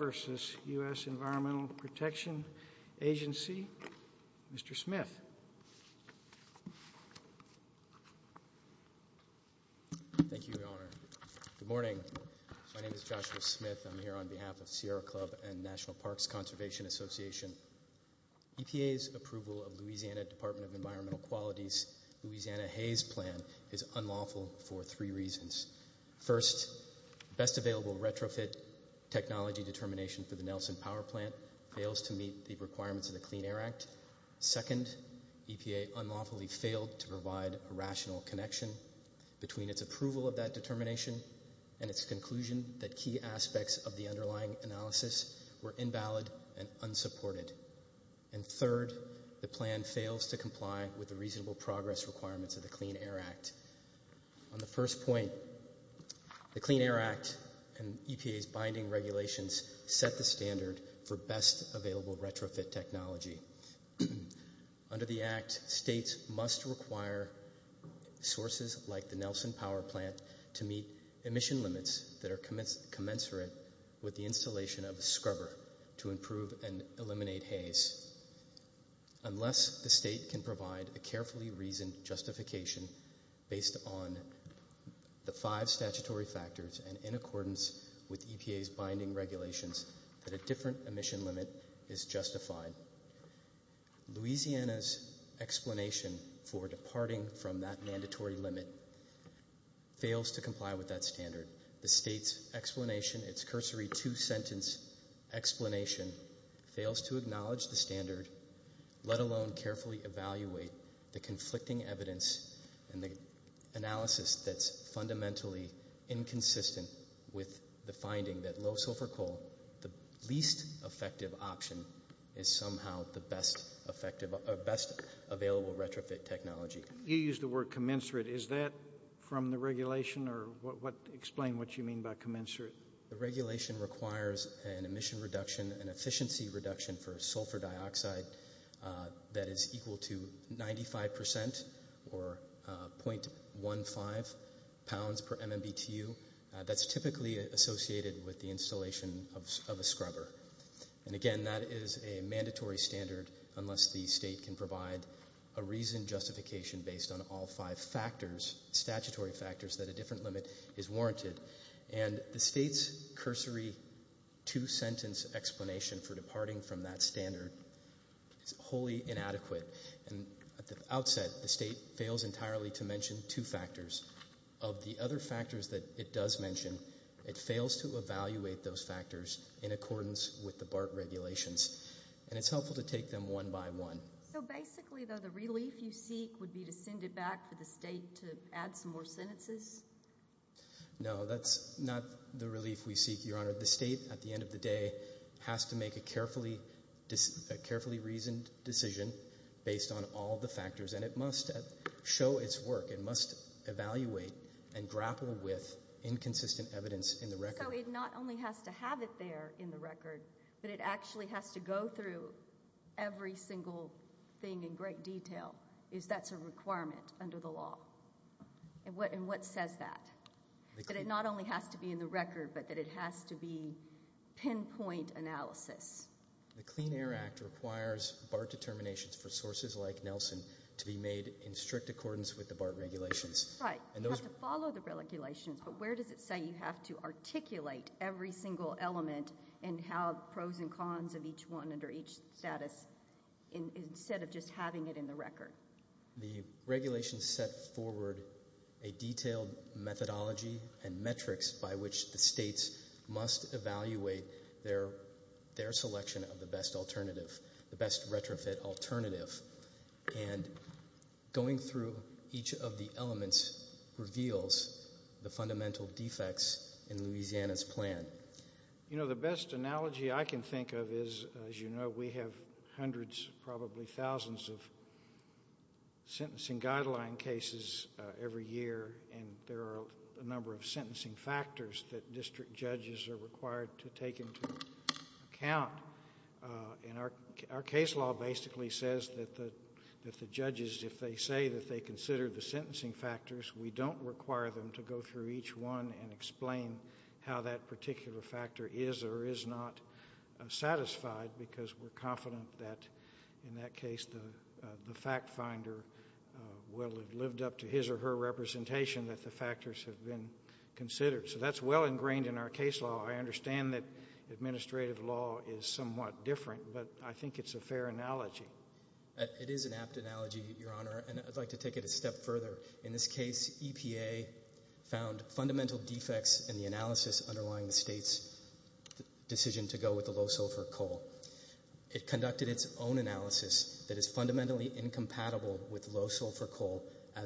versus U.S. Environmental Protection Agency. Mr. Smith. Thank you, Your Honor. Good morning, my name is Joshua Smith. I'm here on behalf of Sierra Club and National Parks Conservation Association. EPA's approval of Louisiana Department of Environmental Qualities, Louisiana Hays Plan is unlawful for three reasons. First, best available retrofit technology determination for the Nelson Power Plant fails to meet the requirements of the Clean Air Act. Second, EPA unlawfully failed to provide a rational connection between its approval of that determination and its conclusion that key aspects of the underlying analysis were invalid and unsupported. And third, the plan fails to comply with the reasonable progress requirements of the Clean Air Act. On the first point, the EPA's binding regulations set the standard for best available retrofit technology. Under the act, states must require sources like the Nelson Power Plant to meet emission limits that are commensurate with the installation of scrubber to improve and eliminate haze. Unless the state can provide a carefully reasoned justification based on the five statutory factors and in accordance with EPA's binding regulations, that a different emission limit is justified. Louisiana's explanation for departing from that mandatory limit fails to comply with that standard. The state's explanation, its cursory two-sentence explanation, fails to acknowledge the standard, let alone carefully evaluate the conflicting evidence and the analysis that's fundamentally inconsistent with the finding that low-sulfur-coal, the least effective option, is somehow the best available retrofit technology. You used the word commensurate. Is that from the regulation or explain what you mean by commensurate? The regulation requires an emission reduction and efficiency reduction for sulfur dioxide that is equal to 95% or 0.15 pounds per MMBTU. That's typically associated with the installation of a scrubber. And again, that is a mandatory standard unless the state can provide a reasoned justification based on all five factors, statutory factors, that a different limit is warranted. And the state's cursory two-sentence explanation for departing from that standard is wholly inadequate and, at the outset, the state fails entirely to mention two factors. Of the other factors that it does mention, it fails to evaluate those factors in accordance with the BART regulations. And it's helpful to take them one by one. So basically, though, the relief you seek would be to send it back to the state to add some more sentences? No, that's not the relief we seek, Your Honor. The state, at the end of the day, has to make a carefully reasoned decision based on all the factors, and it must show its work. It must evaluate and grapple with inconsistent evidence in the record. So it not only has to have it there in the record, but it actually has to go through every single thing in great detail, if that's a requirement under the law. And what says that? That it not only has to be in the record, but that it has to be pinpoint analysis. The Clean Air Act requires BART determinations for sources like Nelson to be made in strict accordance with the BART regulations. Right, to follow the regulations, but where does it say you have to articulate every single element and have pros and cons of each one under each status, instead of just having it in the record? The regulations set forward a detailed methodology and their selection of the best alternative, the best retrofit alternative, and going through each of the elements reveals the fundamental defects in Louisiana's plan. You know, the best analogy I can think of is, as you know, we have hundreds, probably thousands of sentencing guideline cases every year, and there are a number of sentencing factors that district judges are required to take into account. And our case law basically says that the judges, if they say that they consider the sentencing factors, we don't require them to go through each one and explain how that particular factor is or is not satisfied, because we're confident that, in that case, the fact finder will have lived up to his or her representation that the factors have been considered. So that's well ingrained in our case law. I understand that administrative law is somewhat different, but I think it's a fair analogy. It is an apt analogy, Your Honor, and I'd like to take it a step further. In this case, EPA found fundamental defects in the analysis underlying the state's decision to go with a low-sulfur coal. It conducted its own analysis that is fundamentally incompatible with low sulfur coal. The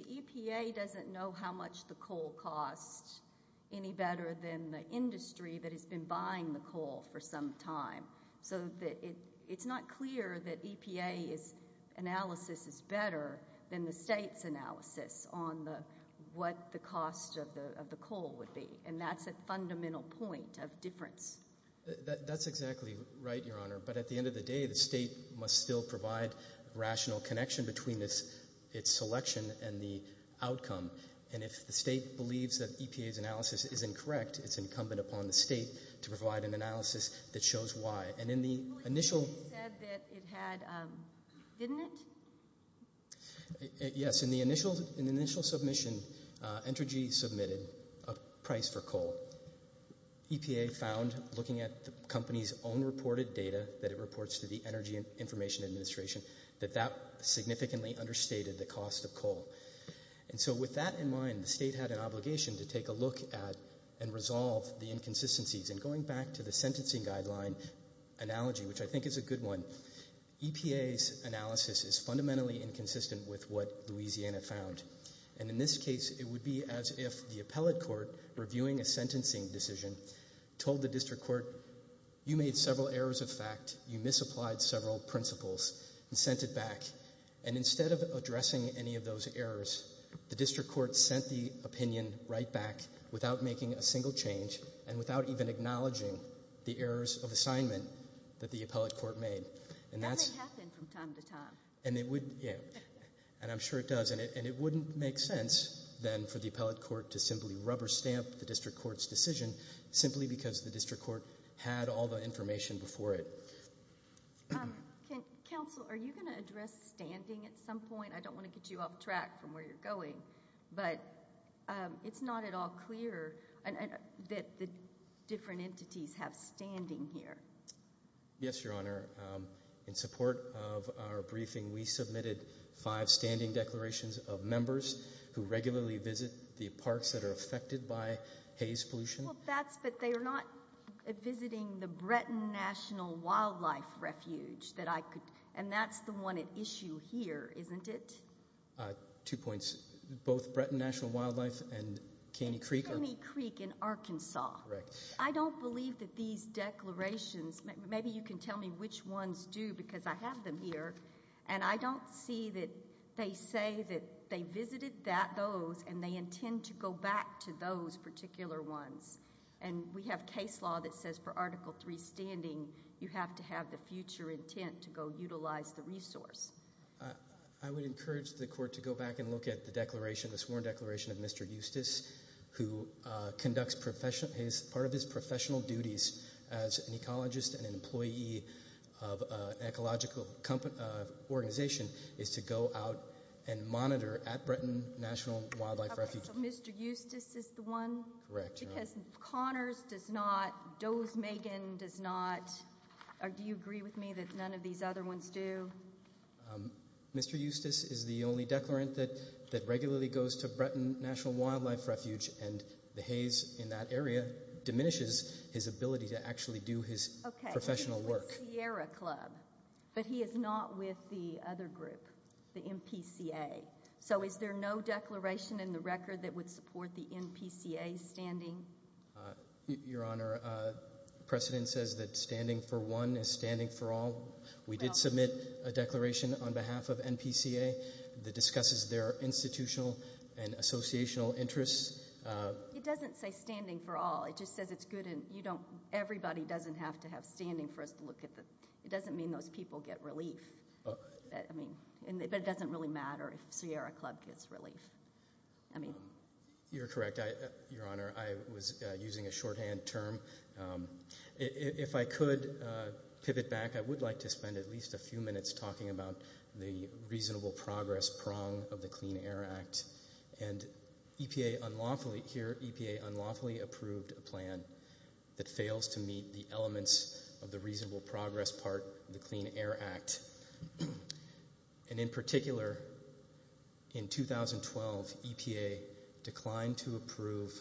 EPA doesn't know how much the coal costs any better than the industry that has been buying the coal for some time. So it's not clear that EPA's analysis is better than the state's analysis on what the cost of the coal would be, and that's a fundamental point of difference. That's exactly right, Your Honor, but at the end of the day, the state must still provide rational connection between its selection and the outcome, and if the state believes that EPA's analysis is incorrect, it's incumbent upon the state to provide an analysis that shows why. And in the initial submission, Entergy submitted a price for coal. EPA found, looking at the company's own reported data that it reports to the Energy Information Administration, that that significantly understated the cost of coal. And so with that in mind, the state had an obligation to take a look at and resolve the inconsistencies. And going back to the sentencing guideline analogy, which I think is a good one, EPA's analysis is fundamentally inconsistent with what Louisiana found. And in this case, it would be as if the appellate court, reviewing a sentencing decision, told the district court, you made several errors of fact, you misapplied several principles, and sent it back. And instead of addressing any of those errors, the district court sent the opinion right back without making a single change, and without even acknowledging the errors of assignment that the appellate court made. And that may happen from time to time. And it wouldn't, yeah, and I'm sure it does. And it wouldn't make sense, then, for the appellate court to simply rubber stamp the district court's decision, simply because the district court had all the information before it. Counsel, are you going to address standing at some point? I don't want to get you off track from where you're going. But it's not at all clear that the different entities have standing here. Yes, Your Honor. In support of our briefing, we submitted five standing declarations of Well, that's that they are not visiting the Breton National Wildlife Refuge. And that's the one at issue here, isn't it? Two points. Both Breton National Wildlife and Caney Creek. Caney Creek in Arkansas. I don't believe that these declarations, maybe you can tell me which ones do, because I have them here, and I don't see that they say that they visited those, and they intend to go back to those particular ones. And we have case law that says for Article III standing, you have to have the future intent to go utilize the resource. I would encourage the court to go back and look at the declaration, the sworn declaration of Mr. Eustace, who conducts, is part of his professional duties as an ecologist and an employee of an ecological organization, is to go out and monitor at Breton National Wildlife Refuge. Mr. Eustace is the one? Because Connors does not, does Megan does not, do you agree with me that none of these other ones do? Mr. Eustace is the only declarant that regularly goes to Breton National Wildlife Refuge and behaves in that area, diminishes his ability to actually do his professional work. But he is not with the other group, the NPCA. So is there no declaration in the record that would support the NPCA standing? Your Honor, precedent says that standing for one is standing for all. We did submit a declaration on behalf of NPCA that discusses their institutional and associational interests. It doesn't say standing for all. It just says it's good and everybody doesn't have to have standing for it. It doesn't mean those people get relief. And it doesn't really matter if Sierra Club gets relief. You're correct, Your Honor. I was using a shorthand term. If I could pivot back, I would like to spend at least a few minutes talking about the reasonable progress prong of the Clean Air Act. EPA unlawfully approved a plan that fails to meet the elements of the reasonable progress part of the Clean Air Act. And in particular, in 2012, EPA declined to approve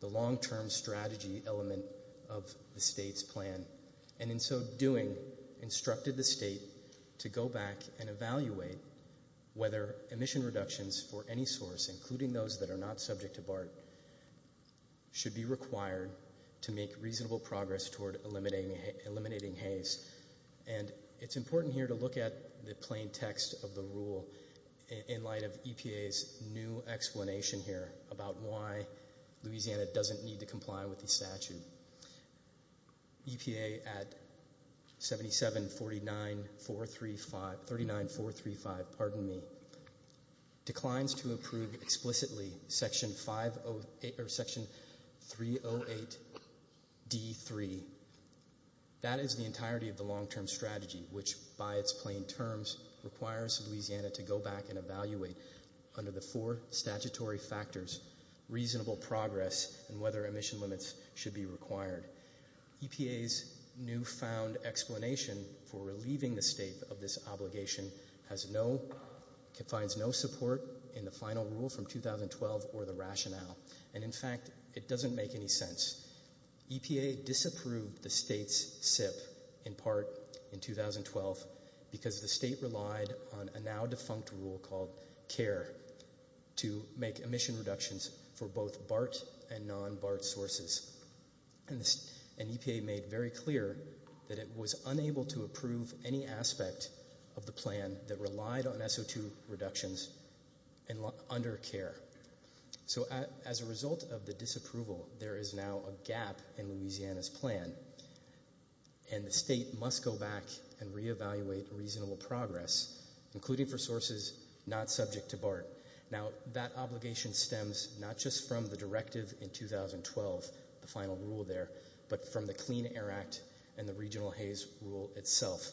the long-term strategy element of the state's plan. And in so doing, instructed the state to go back and evaluate whether emission reductions for any source, including those that are not subject to BART, should be required to make reasonable progress toward eliminating haze. And it's important here to look at the plain text of the rule in light of EPA's new explanation here about why Louisiana doesn't need to comply with the statute. EPA at 37.435 declines to approve explicitly Section 308.D.3. That is the entirety of the long-term strategy, which, by its plain terms, requires Louisiana to go back and evaluate, under the four statutory factors, reasonable progress and whether emission limits should be required. EPA's newfound explanation for relieving the state of this obligation has no – it finds no support in the final rule from 2012 or the rationale. And in fact, it doesn't make any sense. EPA disapproved the state's SIP in part in 2012 because the state relied on a now-defunct rule called CARE to make emission reductions for both BART and non-BART sources. And EPA made very clear that it was unable to approve any aspect of the plan that relied on SO2 reductions under CARE. So as a result of the disapproval, there is now a gap in Louisiana's plan, and the state must go back and reevaluate reasonable progress, including for sources not subject to BART. Now, that obligation stems not just from the directive in 2012, the final rule there, but from the Clean Air Act and the Regional Haze Rule itself,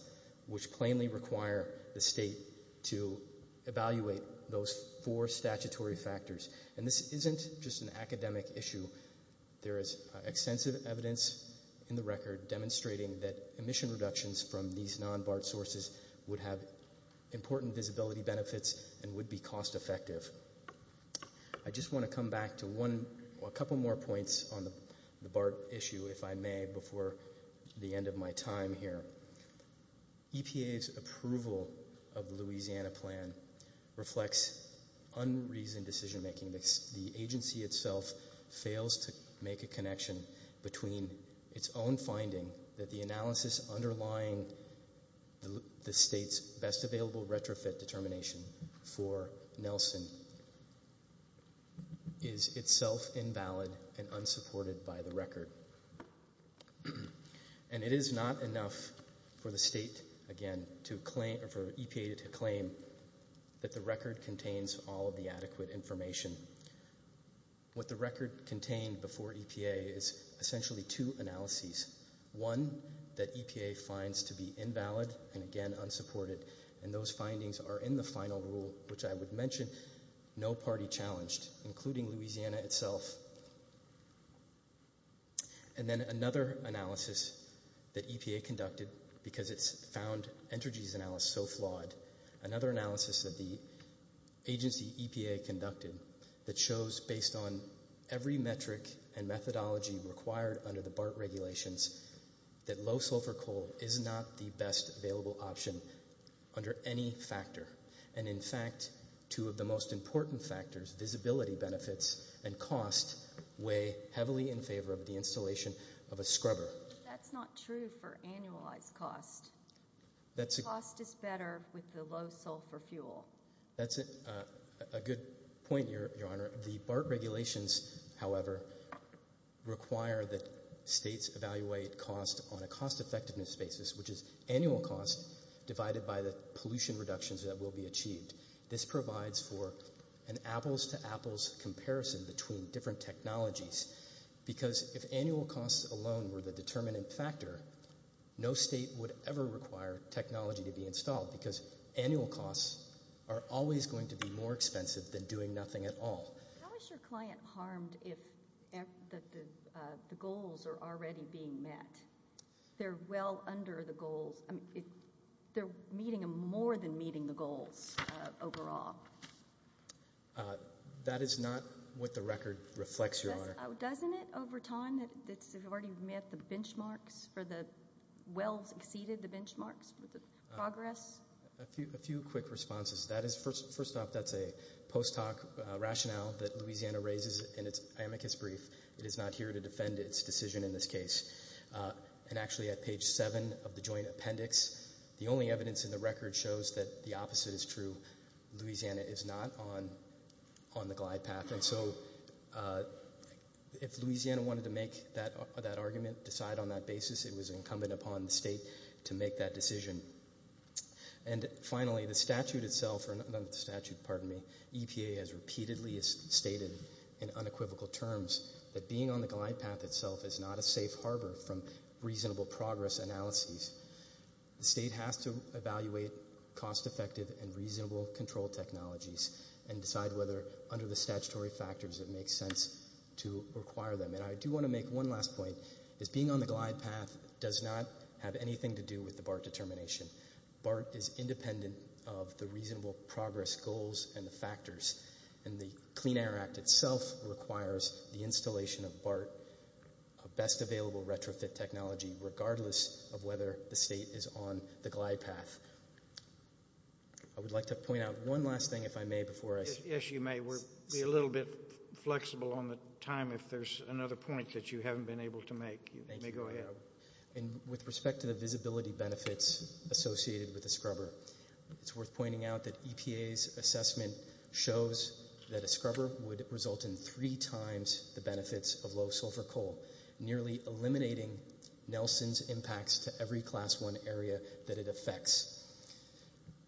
which plainly require the state to evaluate those four statutory factors. And this isn't just an academic issue. There is extensive evidence in the record demonstrating that emission reductions from these non-BART sources would have important visibility benefits and would be cost-effective. I just want to come back to a couple more points on the BART issue, if I may, before the end of my time here. EPA's approval of the Louisiana plan reflects unreasoned decision-making. The agency itself fails to make a connection between its own finding that the analysis underlying the state's best available retrofit determination for Nelson is itself invalid and unsupported by the record. And it is not enough for the EPA to claim that the record contains all of the adequate information. What the record contained before EPA is essentially two analyses, one that EPA finds to be invalid and again unsupported, and those findings are in the final rule, which I would mention, no party challenged, including Louisiana itself. And then another analysis that EPA conducted, because it found Entergy's analysis so flawed, another analysis that the agency, EPA, conducted that shows, based on every metric and methodology required under the BART regulations, that low sulfur coal is not the best available option under any factor. And in fact, two of the most important factors, visibility benefits and cost, weigh heavily in favor of the installation of a scrubber. That's not true for annualized costs. Cost is better with the low sulfur fuel. That's a good point, Your Honor. The BART regulations, however, require that states evaluate cost on a cost effectiveness basis, which is annual cost divided by the pollution reductions that will be achieved. This provides for an apples-to-apples comparison between different technologies, because if annual costs alone were the determining factor, no state would ever require technology to be installed, because annual costs are always going to be more expensive than doing nothing at all. How is your client harmed if the goals are already being met? They're well under the goals. They're meeting them more than meeting the goals overall. That is not what the record reflects, Your Honor. Doesn't it, over time, that the majority have met the benchmarks, or well exceeded the benchmarks with the progress? A few quick responses. First off, that's a post hoc rationale that Louisiana raises in its amicus brief. It is not here to defend its decision in this case. Actually, at page 7 of the joint appendix, the only evidence in the record shows that the opposite is true. Louisiana is not on the glide path. If Louisiana wanted to make that argument, decide on that basis, it was incumbent upon the state to make that decision. Finally, the statute itself, EPA has repeatedly stated in unequivocal terms that being on the glide path itself is not a safe harbor from reasonable progress analysis. The state has to evaluate cost effective and reasonable control technologies and decide whether, under the statutory factors, it makes sense to require them. I do want to make one last point. Being on the glide path does not have anything to do with the BART determination. BART is independent of the reasonable progress goals and the factors. The Clean Air Act itself requires the installation of BART, best available retrofit technology, regardless of whether the state is on the glide path. I would like to point out one last thing, if I may, before I... Yes, you may. We're a little bit flexible on the time. If there's another point that you haven't been able to make, you may go ahead. With respect to the visibility benefits associated with a scrubber, it's worth pointing out that EPA's assessment shows that a scrubber would result in three times the benefits of low sulfur coal, nearly eliminating Nelson's impacts to every class one area that it affects.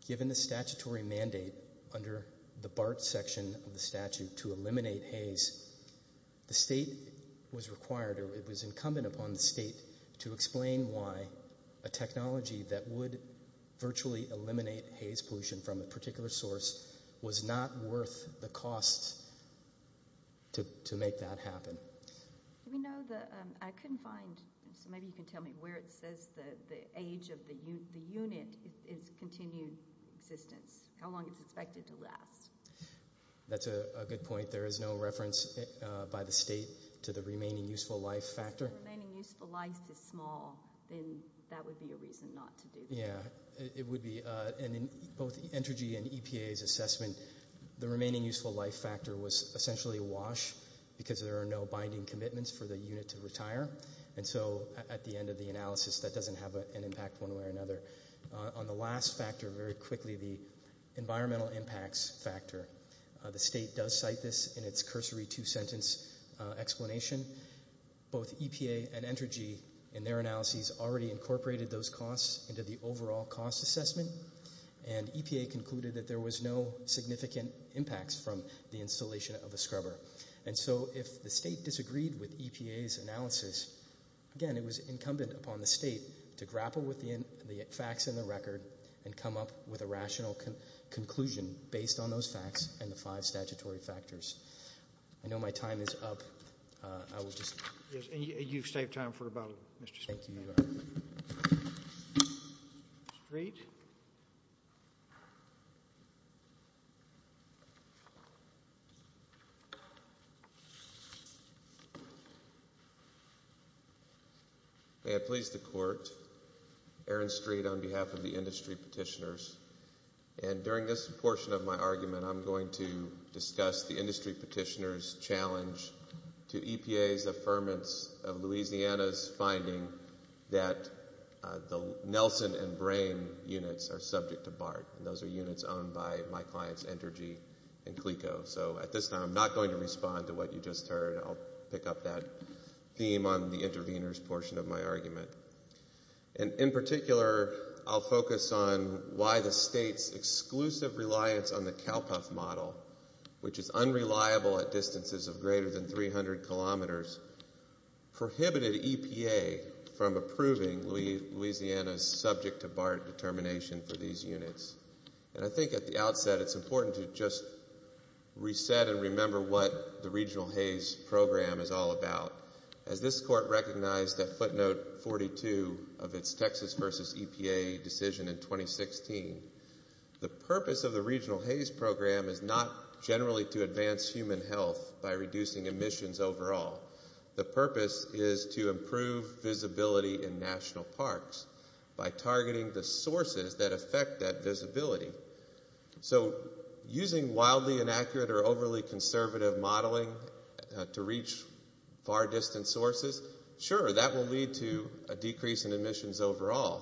Given the statutory mandate under the BART section of the statute to eliminate haze, the state was required or it was incumbent upon the state to explain why a technology that would virtually eliminate haze pollution from a particular source was not worth the cost to make that happen. I couldn't find... Maybe you can tell me where it says the age of the unit is continued existence, how long it's expected to last. That's a good point. There is no reference by the state to the remaining useful life factor. If the remaining useful life is small, then that would be a reason not to do that. Yeah, it would be. In both Entergy and EPA's assessment, the remaining useful life factor was essentially a wash because there are no binding commitments for the unit to retire. At the end of the analysis, that doesn't have an impact one way or another. On the last factor, very quickly, the environmental impacts factor. The state does cite this in its cursory two-sentence explanation. Both EPA and Entergy, in their analyses, already incorporated those costs into the overall cost assessment, and EPA concluded that there was no significant impacts from the installation of a scrubber. If the state disagreed with EPA's analysis, again, it was incumbent upon the state to grapple with the facts in the record and come up with a rational conclusion based on those facts and the five statutory factors. I know my time is up. Yes, and you've saved time for about a minute. Thank you. Street? May I please the court? Aaron Street on behalf of the industry petitioners. During this portion of my argument, I'm going to discuss the industry petitioner's challenge to EPA's affirmance of Louisiana's finding that the Nelson and Brain units are subject to BART. Those are units owned by my clients, Entergy and Clico. At this time, I'm not going to respond to what you just heard. I'll pick up that theme on the intervener's portion of my argument. In particular, I'll focus on why the state's exclusive reliance on the CalCuff model, which is unreliable at distances of greater than 300 kilometers, prohibited EPA from approving Louisiana's subject-to-BART determination for these units. I think at the outset, it's important to just reset and remember what the regional HAES program is all about. As this court recognized at footnote 42 of its Texas versus EPA decision in 2016, the purpose of the regional HAES program is not generally to advance human health by reducing emissions overall. The purpose is to improve visibility in national parks by targeting the sources that affect that visibility. Using wildly inaccurate or overly conservative modeling to reach far-distance sources, sure, that will lead to a decrease in emissions overall,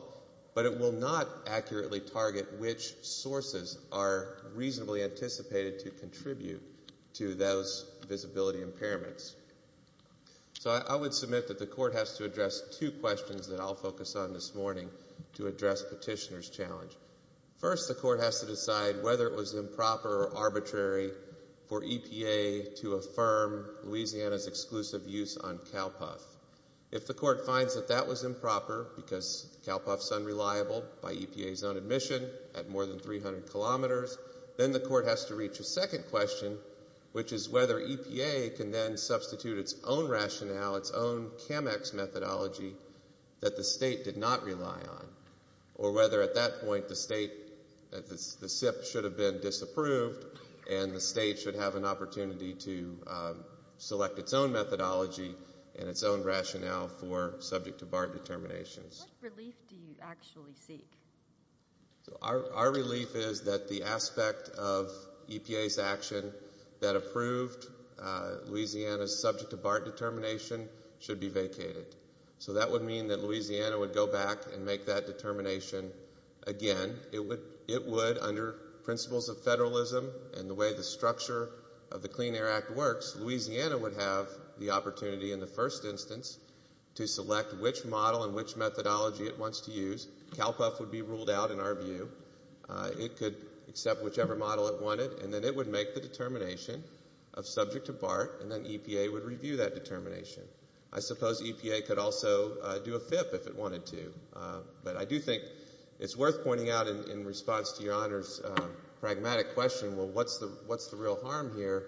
but it will not accurately target which sources are reasonably anticipated to contribute to those visibility impairments. I would submit that the court has to address two questions that I'll focus on this morning to address petitioner's challenge. First, the court has to decide whether it was improper or arbitrary for EPA to affirm Louisiana's exclusive use on CalCuff. If the court finds that that was improper because CalCuff's unreliable by EPA's own admission at more than 300 kilometers, then the court has to reach a second question, which is whether EPA can then substitute its own rationale, its own CAMEX methodology that the state did not rely on, or whether at that point the state should have been disapproved and the state should have an opportunity to select its own methodology and its own rationale for subject-to-BART determinations. What relief do you actually seek? Our relief is that the aspect of EPA's action that approved Louisiana's subject-to-BART determination should be vacated. That would mean that Louisiana would go back and make that determination again. It would, under principles of federalism and the way the structure of the Clean Air Act works, Louisiana would have the opportunity in the first instance to select which model and which methodology it wants to use. CalCuff would be ruled out in our view. It could accept whichever model it wanted, and then it would make the determination of subject-to-BART, and then EPA would review that determination. I suppose EPA could also do a PIP if it wanted to. But I do think it's worth pointing out in response to your Honor's pragmatic question, well, what's the real harm here?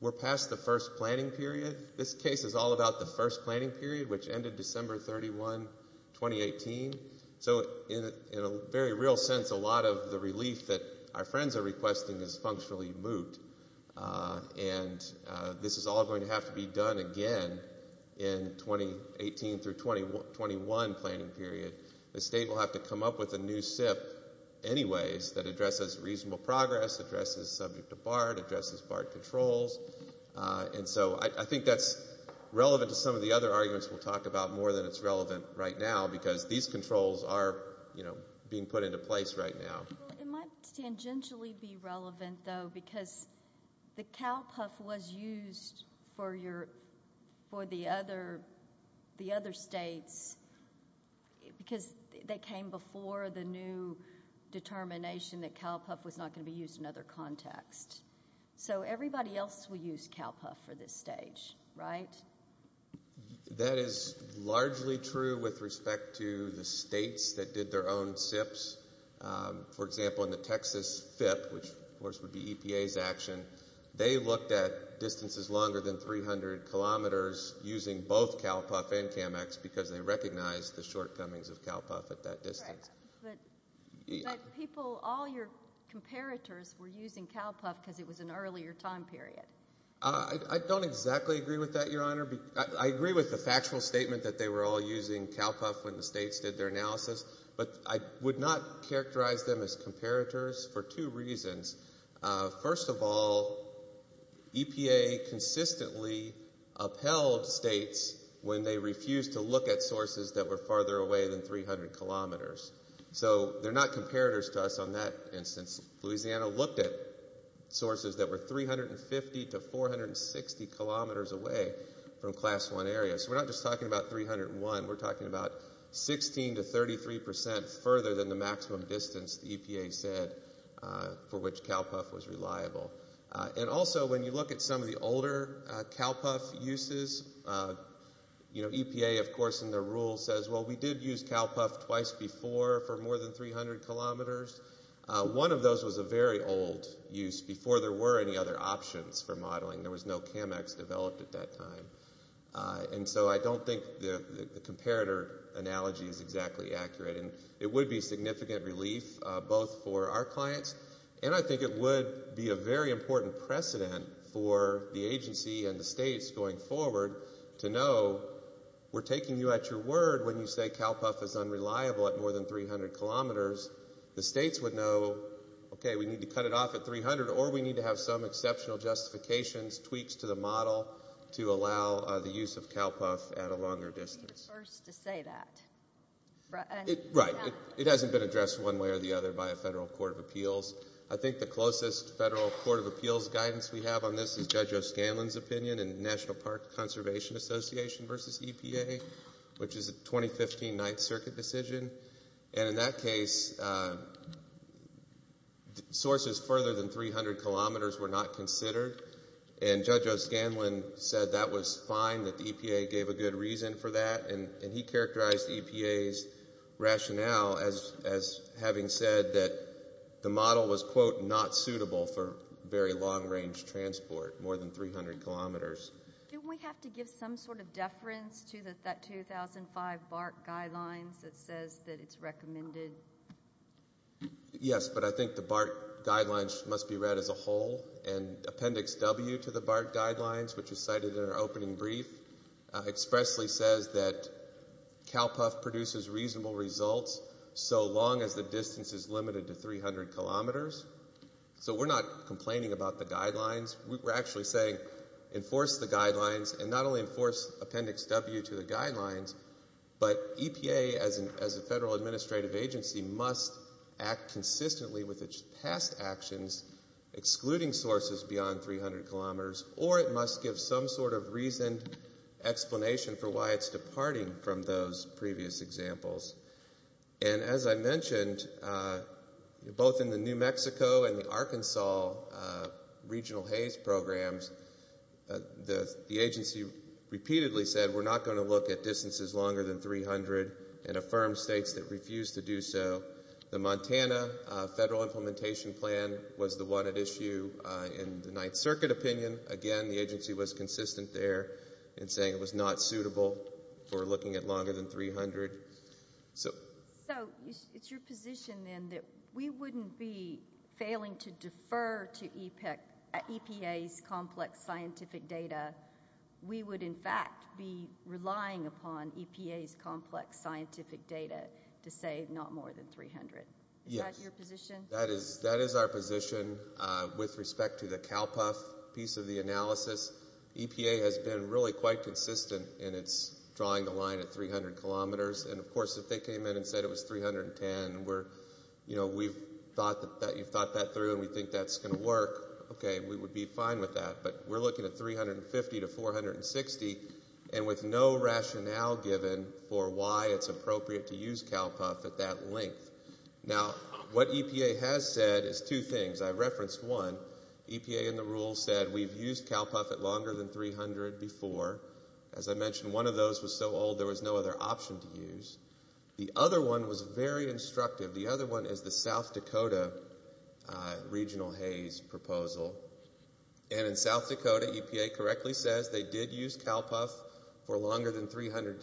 We're past the first planning period. This case is all about the first planning period, which ended December 31, 2018. So in a very real sense, a lot of the relief that our friends are requesting is functionally moot. And this is all going to have to be done again in 2018 through 2021 planning period. The state will have to come up with a new SIF anyways that addresses reasonable progress, addresses subject-to-BART, addresses BART controls. And so I think that's relevant to some of the other arguments we'll talk about more than it's relevant right now, because these controls are being put into place right now. It might tangentially be relevant, though, because the CalCuff was used for the other states because they came before the new determination that CalCuff was not going to be used in other contexts. So everybody else will use CalCuff for this stage, right? That is largely true with respect to the states that did their own SIFs. For example, in the Texas FIF, which of course would be EPA's action, they looked at distances longer than 300 kilometers using both CalCuff and CAMEX because they recognized the shortcomings of CalCuff at that distance. But all your comparators were using CalCuff because it was an earlier time period. I don't exactly agree with that, Your Honor. I agree with the factual statement that they were all using CalCuff when the states did their analysis, but I would not characterize them as comparators for two reasons. First of all, EPA consistently upheld states when they refused to look at sources that were farther away than 300 kilometers. So they're not comparators to us on that instance. Louisiana looked at sources that were 350 to 460 kilometers away from Class I areas. We're not just talking about 301. We're talking about 16 to 33 percent further than the maximum distance EPA said for which CalCuff was reliable. And also when you look at some of the older CalCuff uses, EPA of course in their rules says, well, we did use CalCuff twice before for more than 300 kilometers. One of those was a very old use before there were any other options for modeling. There was no CAMEX developed at that time. And so I don't think the comparator analogy is exactly accurate. And it would be a significant relief both for our clients, and I think it would be a very important precedent for the agency and the states going forward to know we're taking you at your word when you say CalCuff is unreliable at more than 300 kilometers. The states would know, okay, we need to cut it off at 300 or we need to have some exceptional justifications, tweaks to the model to allow the use of CalCuff at a longer distance. You're the first to say that. Right. It hasn't been addressed one way or the other by a federal court of appeals. I think the closest federal court of appeals guidance we have on this is Judge O'Scanlan's opinion in the National Parks Conservation Association versus EPA, which is a 2015 Ninth Circuit decision. And in that case, sources further than 300 kilometers were not considered. And Judge O'Scanlan said that was fine, that EPA gave a good reason for that. And he characterized EPA's rationale as having said that the model was, quote, not suitable for very long-range transport, more than 300 kilometers. Do we have to give some sort of deference to that 2005 BART guideline that says that it's recommended? Yes, but I think the BART guidelines must be read as a whole. And Appendix W to the BART guidelines, which is cited in our opening brief, expressly says that CalCuff produces reasonable results so long as the distance is limited to 300 kilometers. So we're not complaining about the guidelines. We're actually saying enforce the guidelines and not only enforce Appendix W to the guidelines, but EPA as a federal administrative agency must act consistently with its task actions excluding sources beyond 300 kilometers, or it must give some sort of reason, explanation for why it's departing from those previous examples. And as I mentioned, both in the New Mexico and the Arkansas regional HAES programs, the agency repeatedly said we're not going to look at distances longer than 300 and affirmed states that refused to do so. The Montana federal implementation plan was the one at issue in the Ninth Circuit opinion. Again, the agency was consistent there in saying it was not suitable for looking at longer than 300. So it's your position then that we wouldn't be failing to defer to EPA's complex scientific data. We would, in fact, be relying upon EPA's complex scientific data to say not more than 300. Yes. Is that your position? That is our position with respect to the CalPUF piece of the analysis. EPA has been really quite consistent in drawing the line at 300 kilometers. And, of course, if they came in and said it was 310, we thought that through and we think that's going to work, okay, we would be fine with that. But we're looking at 350 to 460 and with no rationale given for why it's appropriate to use CalPUF at that length. Now, what EPA has said is two things. I've referenced one. EPA in the rules said we've used CalPUF at longer than 300 before. As I mentioned, one of those was so old there was no other option to use. The other one was very instructive. The other one is the South Dakota Regional Haze proposal. And in South Dakota, EPA correctly says they did use CalPUF for longer than 300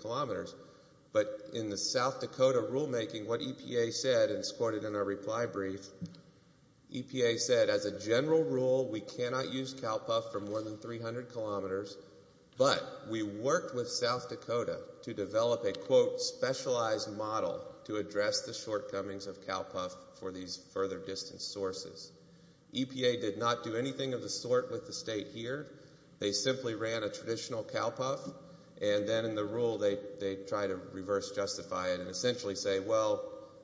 kilometers. But in the South Dakota rulemaking, what EPA said, and it's quoted in our reply brief, EPA said as a general rule we cannot use CalPUF from longer than 300 kilometers, but we worked with South Dakota to develop a, quote, specialized model to address the shortcomings of CalPUF for these further distance sources. EPA did not do anything of the sort with the state here. They simply ran a traditional CalPUF, and then in the rule they try to reverse justify it and essentially say, well,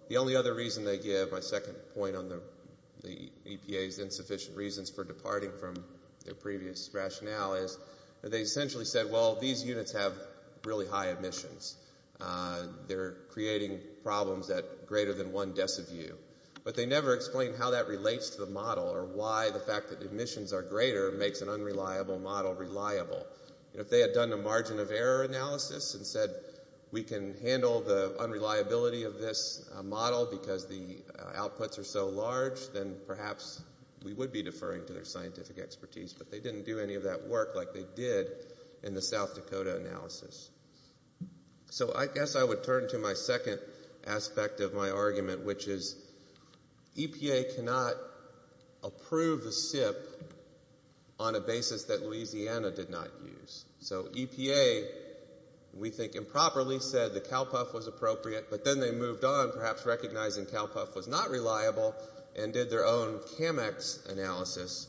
the only other reason they give, my second point on the EPA's insufficient reasons for departing from the previous rationale is that they essentially said, well, these units have really high emissions. They're creating problems at greater than one deciview. But they never explain how that relates to the model or why the fact that the emissions are greater makes an unreliable model reliable. If they had done the margin of error analysis and said we can handle the unreliability of this model because the outputs are so large, then perhaps we would be deferring to their scientific expertise. But they didn't do any of that work like they did in the South Dakota analysis. So I guess I would turn to my second aspect of my argument, which is EPA cannot approve a SIP on a basis that Louisiana did not use. So EPA, we think improperly, said the CalPUF was appropriate, but then they moved on, perhaps recognizing CalPUF was not reliable, and did their own CAMEX analysis.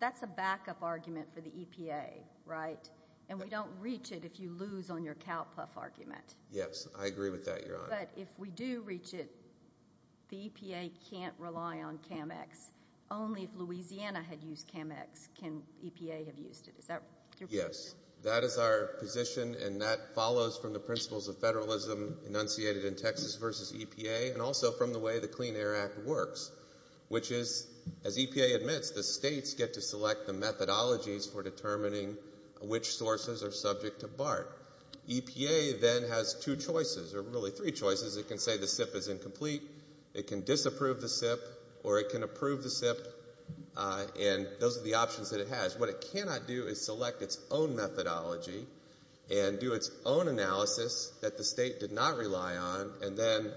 That's a backup argument for the EPA, right? And we don't reach it if you lose on your CalPUF argument. Yes, I agree with that, Your Honor. But if we do reach it, the EPA can't rely on CAMEX. Only if Louisiana had used CAMEX can EPA have used it. Yes, that is our position, and that follows from the principles of federalism enunciated in Texas v. EPA and also from the way the Clean Air Act works, which is, as EPA admits, the states get to select the methodologies for determining which sources are subject to BART. EPA then has two choices, or really three choices. It can say the SIP is incomplete, it can disapprove the SIP, or it can approve the SIP, and those are the options that it has. What it cannot do is select its own methodology and do its own analysis that the state did not rely on and then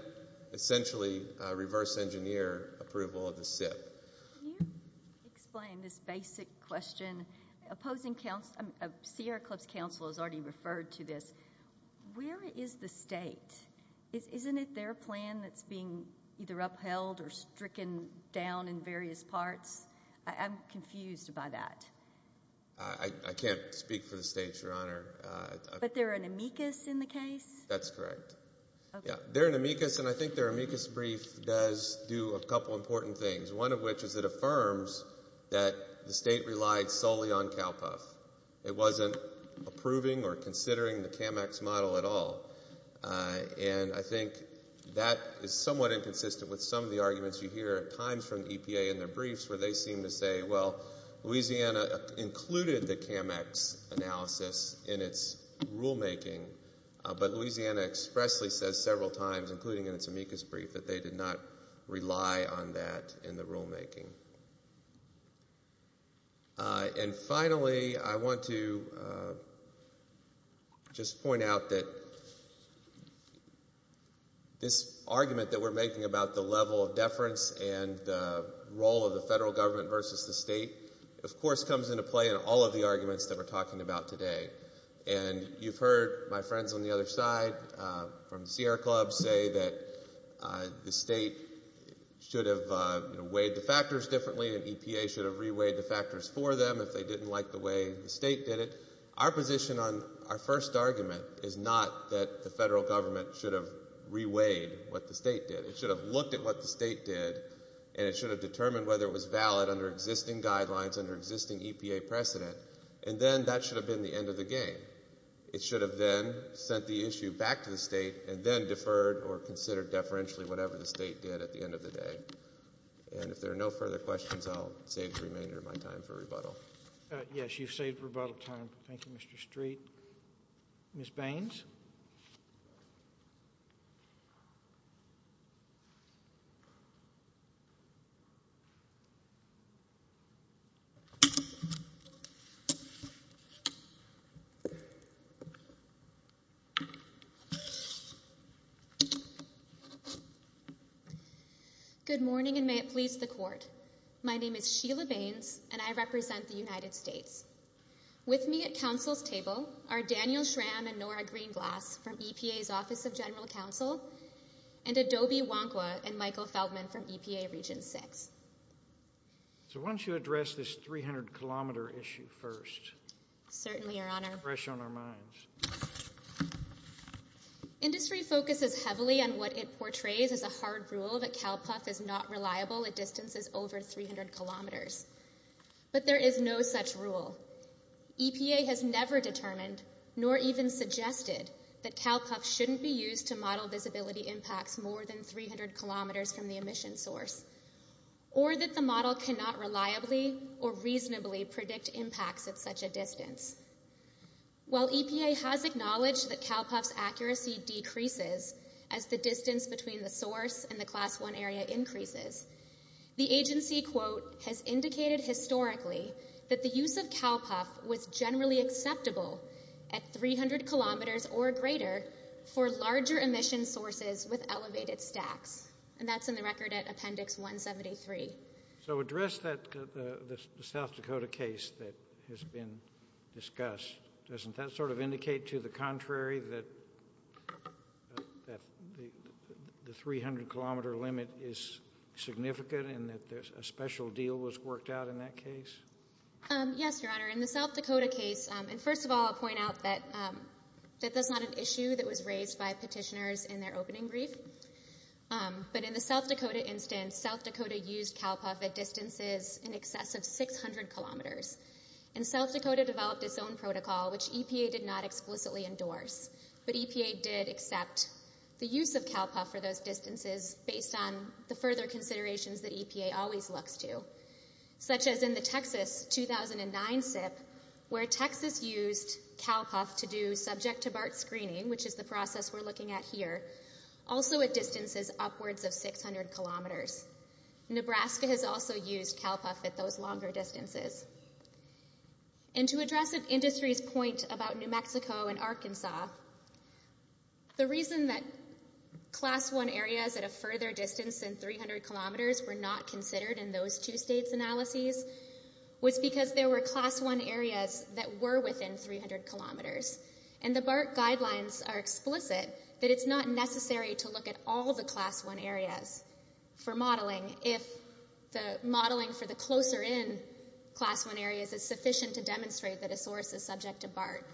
essentially reverse engineer approval of the SIP. Can you explain this basic question? Sierra Clubs Council has already referred to this. Where is the state? Isn't it their plan that's being either upheld or stricken down in various parts? I'm confused by that. I can't speak for the states, Your Honor. But they're an amicus in the case? That's correct. They're an amicus, and I think their amicus brief does do a couple important things, one of which is it affirms that the state relied solely on CALPA. It wasn't approving or considering the CAMACS model at all, and I think that is somewhat inconsistent with some of the arguments you hear at times from EPA in their briefs where they seem to say, well, Louisiana included the CAMACS analysis in its rulemaking, but Louisiana expressly says several times, including in its amicus brief, that they did not rely on that in the rulemaking. And finally, I want to just point out that this argument that we're making about the level of deference and the role of the federal government versus the state, of course, comes into play in all of the arguments that we're talking about today. And you've heard my friends on the other side from Sierra Club say that the state should have weighed the factors differently and EPA should have re-weighed the factors for them if they didn't like the way the state did it. Our position on our first argument is not that the federal government should have re-weighed what the state did. It should have looked at what the state did, and it should have determined whether it was valid under existing guidelines, under existing EPA precedent. And then that should have been the end of the game. It should have then sent the issue back to the state and then deferred or considered deferentially whatever the state did at the end of the day. And if there are no further questions, I'll save the remainder of my time for rebuttal. Yes, you've saved rebuttal time. Thank you, Mr. Street. Ms. Baines? Good morning, and may it please the Court. My name is Sheila Baines, and I represent the United States. With me at Council's table are Daniel Schramm and Nora Greenblatt from EPA's Office of General Counsel, and Adobe Wongwa and Michael Feldman from EPA Region 6. So why don't you address this 300-kilometer issue first? Certainly, Your Honor. It's fresh on our minds. Industry focuses heavily on what it portrays as a hard rule that CALPUF is not reliable at distances over 300 kilometers. But there is no such rule. EPA has never determined, nor even suggested, that CALPUF shouldn't be used to model visibility impacts more than 300 kilometers from the emission source, or that the model cannot reliably or reasonably predict impacts at such a distance. While EPA has acknowledged that CALPUF's accuracy decreases as the distance between the source and the Class I area increases, the agency, quote, has indicated historically that the use of CALPUF was generally acceptable at 300 kilometers or greater for larger emission sources with elevated stacks. And that's in the record at Appendix 173. So address the South Dakota case that has been discussed. Doesn't that sort of indicate to the contrary that the 300-kilometer limit is significant and that a special deal was worked out in that case? Yes, Your Honor. In the South Dakota case, and first of all, I'll point out that that's not an issue that was raised by petitioners in their opening brief. But in the South Dakota instance, South Dakota used CALPUF at distances in excess of 600 kilometers. And South Dakota developed its own protocol, which EPA did not explicitly endorse. But EPA did accept the use of CALPUF for those distances based on the further considerations that EPA always looks to, such as in the Texas 2009 sit, where Texas used CALPUF to do subject-to-BART screening, which is the process we're looking at here, also at distances upwards of 600 kilometers. Nebraska has also used CALPUF at those longer distances. And to address the industry's point about New Mexico and Arkansas, the reason that Class I areas at a further distance than 300 kilometers were not considered in those two states analyses was because there were Class I areas that were within 300 kilometers. And the BART guidelines are explicit that it's not necessary to look at all the Class I areas for modeling if the modeling for the closer-in Class I areas is sufficient to demonstrate that a source is subject to BART.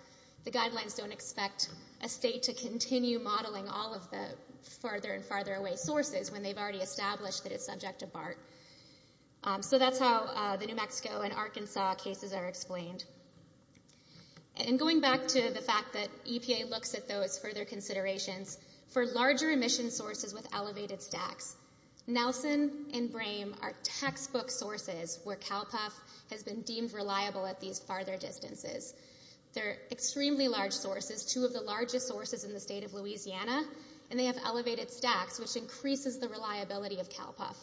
The guidelines don't expect a state to continue modeling all of the farther and farther away sources when they've already established that it's subject to BART. So that's how the New Mexico and Arkansas cases are explained. And going back to the fact that EPA looks at those further considerations, for larger emission sources with elevated stacks, Nelson and Brame are textbook sources where CALPUF has been deemed reliable at these farther distances. They're extremely large sources, two of the largest sources in the state of Louisiana, and they have elevated stacks, which increases the reliability of CALPUF.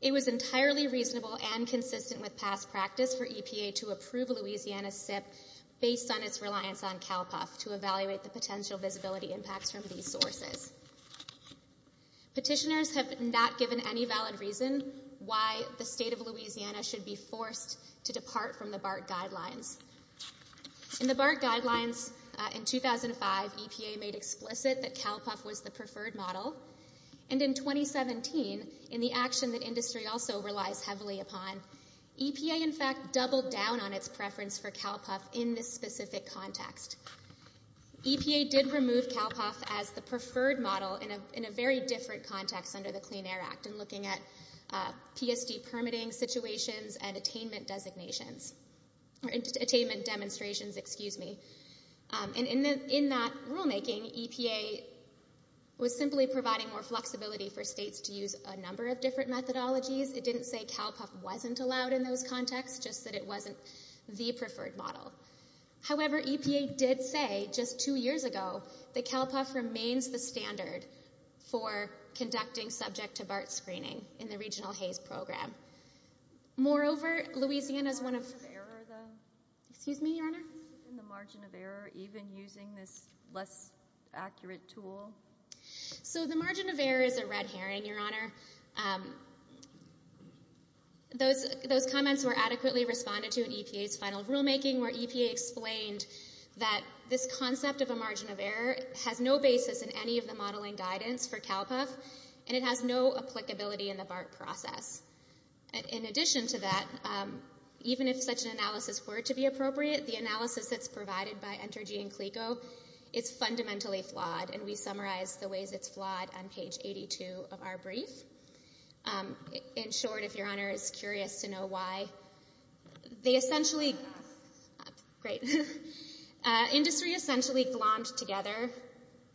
It was entirely reasonable and consistent with past practice for EPA to approve Louisiana SIP based on its reliance on CALPUF to evaluate the potential visibility impact from these sources. Petitioners have not given any valid reasons why the state of Louisiana should be forced to depart from the BART guidelines. In the BART guidelines in 2005, EPA made explicit that CALPUF was the preferred model, and in 2017, in the action that industry also relies heavily upon, EPA in fact doubled down on its preference for CALPUF in this specific context. EPA did remove CALPUF as the preferred model in a very different context under the Clean Air Act in looking at PSD permitting situations and attainment demonstrations. In that rulemaking, EPA was simply providing more flexibility for states to use a number of different methodologies. It didn't say CALPUF wasn't allowed in those contexts, just that it wasn't the preferred model. However, EPA did say just two years ago that CALPUF remains the standard for conducting subject-to-BART screening in the Regional Haze Program. Moreover, Louisiana is one of... Excuse me, Your Honor? The margin of error, even using this less accurate tool? So the margin of error is a red herring, Your Honor. Those comments were adequately responded to in EPA's final rulemaking, where EPA explained that this concept of a margin of error has no basis in any of the modeling guidance for CALPUF, and it has no applicability in the BART process. In addition to that, even if such an analysis were to be appropriate, the analysis that's provided by Entergy and CLECO, it's fundamentally flawed, and we've summarized the ways it's flawed on page 82 of our brief. In short, if Your Honor is curious to know why, they essentially... Great. Industry essentially glommed together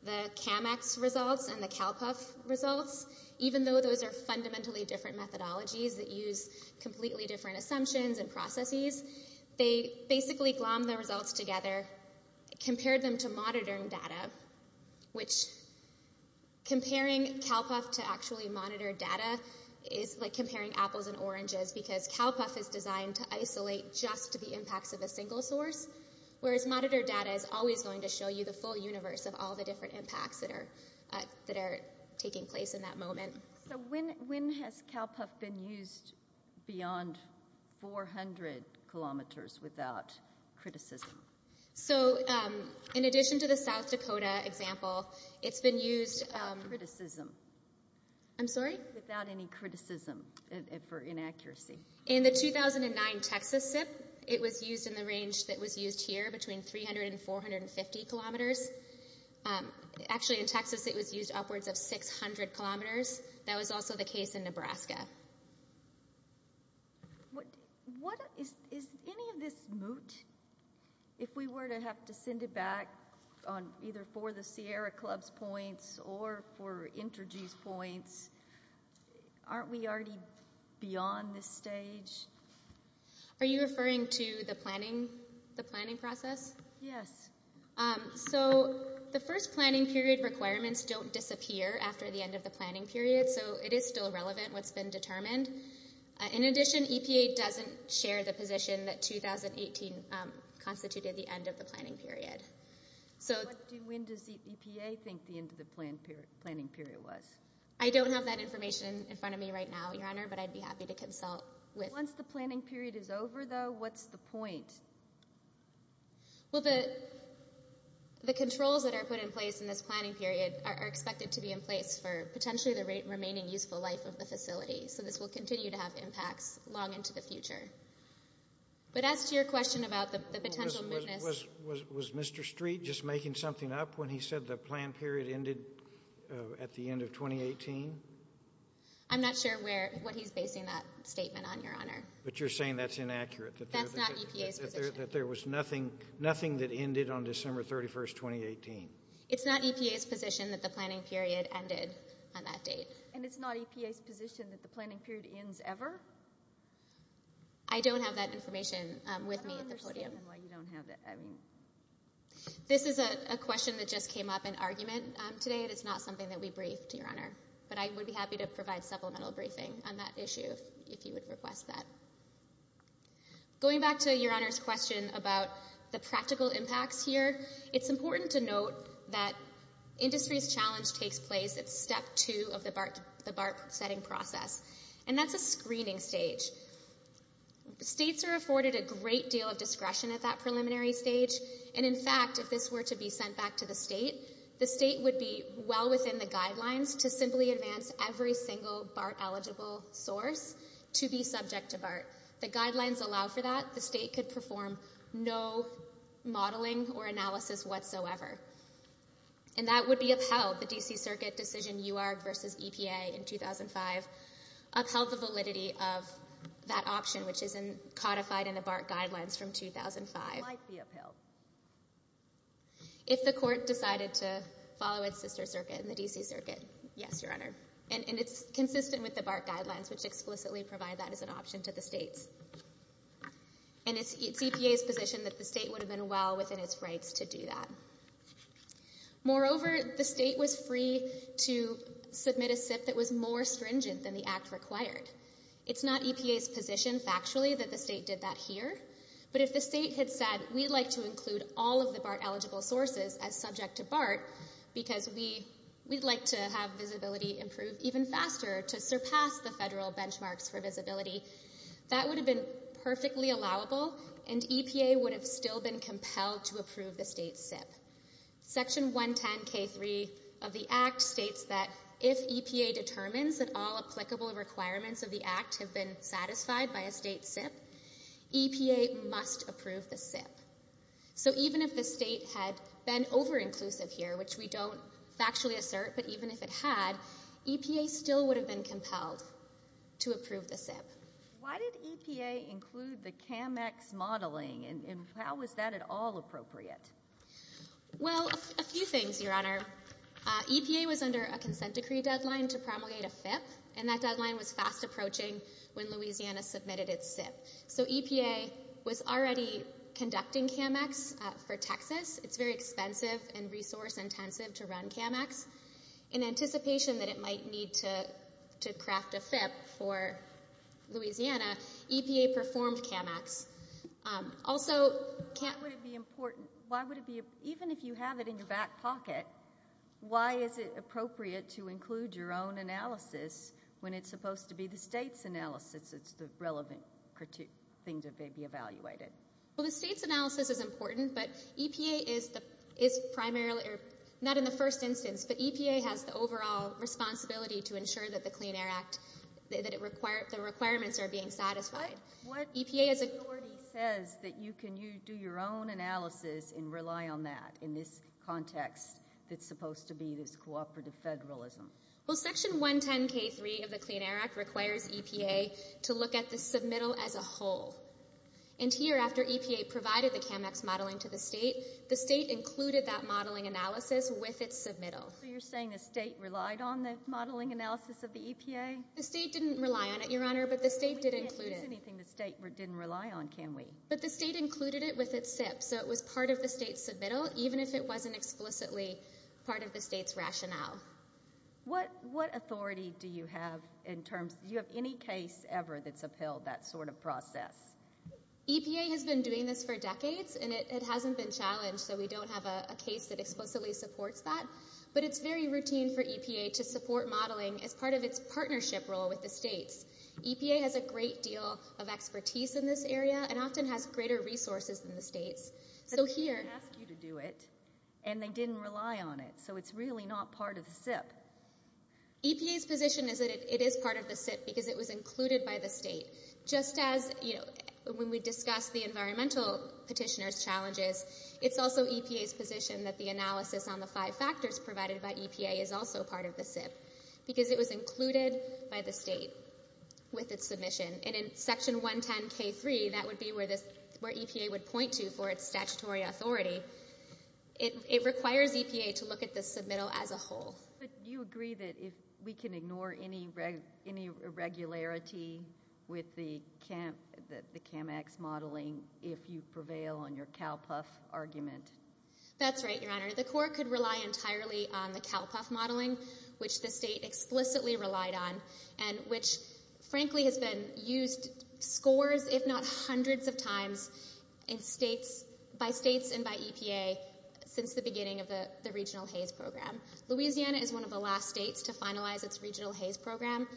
the CAMEX results and the CALPUF results, even though those are fundamentally different methodologies that use completely different assumptions and processes. They basically glommed the results together, compared them to monitoring data, which comparing CALPUF to actually monitor data is like comparing apples and oranges, because CALPUF is designed to isolate just the impacts of a single source, whereas monitor data is always going to show you the full universe of all the different impacts that are taking place in that moment. So when has CALPUF been used beyond 400 kilometers without criticism? So in addition to the South Dakota example, it's been used... Without criticism. I'm sorry? In the 2009 Texas SIP, it was used in the range that was used here, between 300 and 450 kilometers. Actually, in Texas, it was used upwards of 600 kilometers. That was also the case in Nebraska. Is any of this moot? If we were to have to send it back on either for the Sierra Club's points or for Entergy's points, aren't we already beyond this stage? Are you referring to the planning process? Yes. So the first planning period requirements don't disappear after the end of the planning period, so it is still relevant what's been determined. In addition, EPA doesn't share the position that 2018 constituted the end of the planning period. When does EPA think the end of the planning period was? I don't have that information in front of me right now, Your Honor, but I'd be happy to consult with... Once the planning period is over, though, what's the point? Well, the controls that are put in place in this planning period are expected to be in place for potentially the remaining useful life of the facility, so this will continue to have impacts long into the future. But as to your question about the potential mootness... Was Mr. Street just making something up when he said the plan period ended at the end of 2018? I'm not sure what he's basing that statement on, Your Honor. But you're saying that's inaccurate, that there was nothing that ended on December 31, 2018? It's not EPA's position that the planning period ended on that date. And it's not EPA's position that the planning period ends ever? I don't have that information with me at this podium. This is a question that just came up in argument today, and it's not something that we briefed, Your Honor. But I would be happy to provide supplemental briefing on that issue if you would request that. Going back to Your Honor's question about the practical impacts here, it's important to note that industry's challenge takes place at Step 2 of the BART setting process, and that's a screening stage. States are afforded a great deal of discretion at that preliminary stage. And, in fact, if this were to be sent back to the state, the state would be well within the guidelines to simply advance every single BART-eligible source to be subject to BART. The guidelines allow for that. The state could perform no modeling or analysis whatsoever. And that would be upheld, the D.C. Circuit's decision, U.R. versus EPA in 2005, upheld the validity of that option, which is codified in the BART guidelines from 2005. If the court decided to follow its sister circuit in the D.C. Circuit, yes, Your Honor. And it's consistent with the BART guidelines, which explicitly provide that as an option to the state. And it's EPA's position that the state would have been well within its rights to do that. Moreover, the state was free to submit a SIF that was more stringent than the act required. It's not EPA's position, factually, that the state did that here. But if the state had said, we'd like to include all of the BART-eligible sources as subject to BART because we'd like to have visibility improved even faster to surpass the federal benchmarks for visibility, that would have been perfectly allowable, and EPA would have still been compelled to approve the state SIF. Section 110K3 of the act states that if EPA determines that all applicable requirements of the act have been satisfied by a state SIF, EPA must approve the SIF. So even if the state had been over-inclusive here, which we don't factually assert, but even if it had, EPA still would have been compelled to approve the SIF. Why did EPA include the CAMEX modeling, and how is that at all appropriate? Well, a few things, Your Honor. EPA was under a consent decree deadline to promulgate a SIF, and that deadline was fast approaching when Louisiana submitted its SIF. So EPA was already conducting CAMEX for Texas. It's very expensive and resource-intensive to run CAMEX. In anticipation that it might need to craft a SIF for Louisiana, EPA performed CAMEX. Also, even if you have it in your back pocket, why is it appropriate to include your own analysis when it's supposed to be the state's analysis, the relevant things that may be evaluated? Well, the state's analysis is important, but EPA is primarily, not in the first instance, but EPA has the overall responsibility to ensure that the Clean Air Act, that the requirements are being satisfied. EPA has the authority to say that you can do your own analysis and rely on that in this context that's supposed to be this cooperative federalism. Well, Section 110K3 of the Clean Air Act requires EPA to look at the submittal as a whole. And here, after EPA provided the CAMEX modeling to the state, the state included that modeling analysis with its submittal. So you're saying the state relied on the modeling analysis of the EPA? The state didn't rely on it, Your Honor, but the state did include it. We can't do anything the state didn't rely on, can we? But the state included it with its SIF, so it was part of the state's submittal, even if it wasn't explicitly part of the state's rationale. What authority do you have in terms – do you have any case ever that fulfilled that sort of process? EPA has been doing this for decades, and it hasn't been challenged, so we don't have a case that explicitly supports that. But it's very routine for EPA to support modeling as part of its partnership role with the state. EPA has a great deal of expertise in this area and often has greater resources than the state. But they didn't ask you to do it, and they didn't rely on it, so it's really not part of the SIF. EPA's position is that it is part of the SIF because it was included by the state. Just as when we discussed the environmental petitioner's challenges, it's also EPA's position that the analysis on the five factors provided by EPA is also part of the SIF because it was included by the state with its submission. And in Section 110K3, that would be where EPA would point you for its statutory authority. It requires EPA to look at the submittal as a whole. But do you agree that we can ignore any irregularity with the CAMACS modeling if you prevail on your CALPUF argument? That's right, Your Honor. The court could rely entirely on the CALPUF modeling, which the state explicitly relied on, and which, frankly, has been used scores, if not hundreds of times, by states and by EPA since the beginning of the regional HAVE program. Louisiana is one of the last states to finalize its regional HAVE program,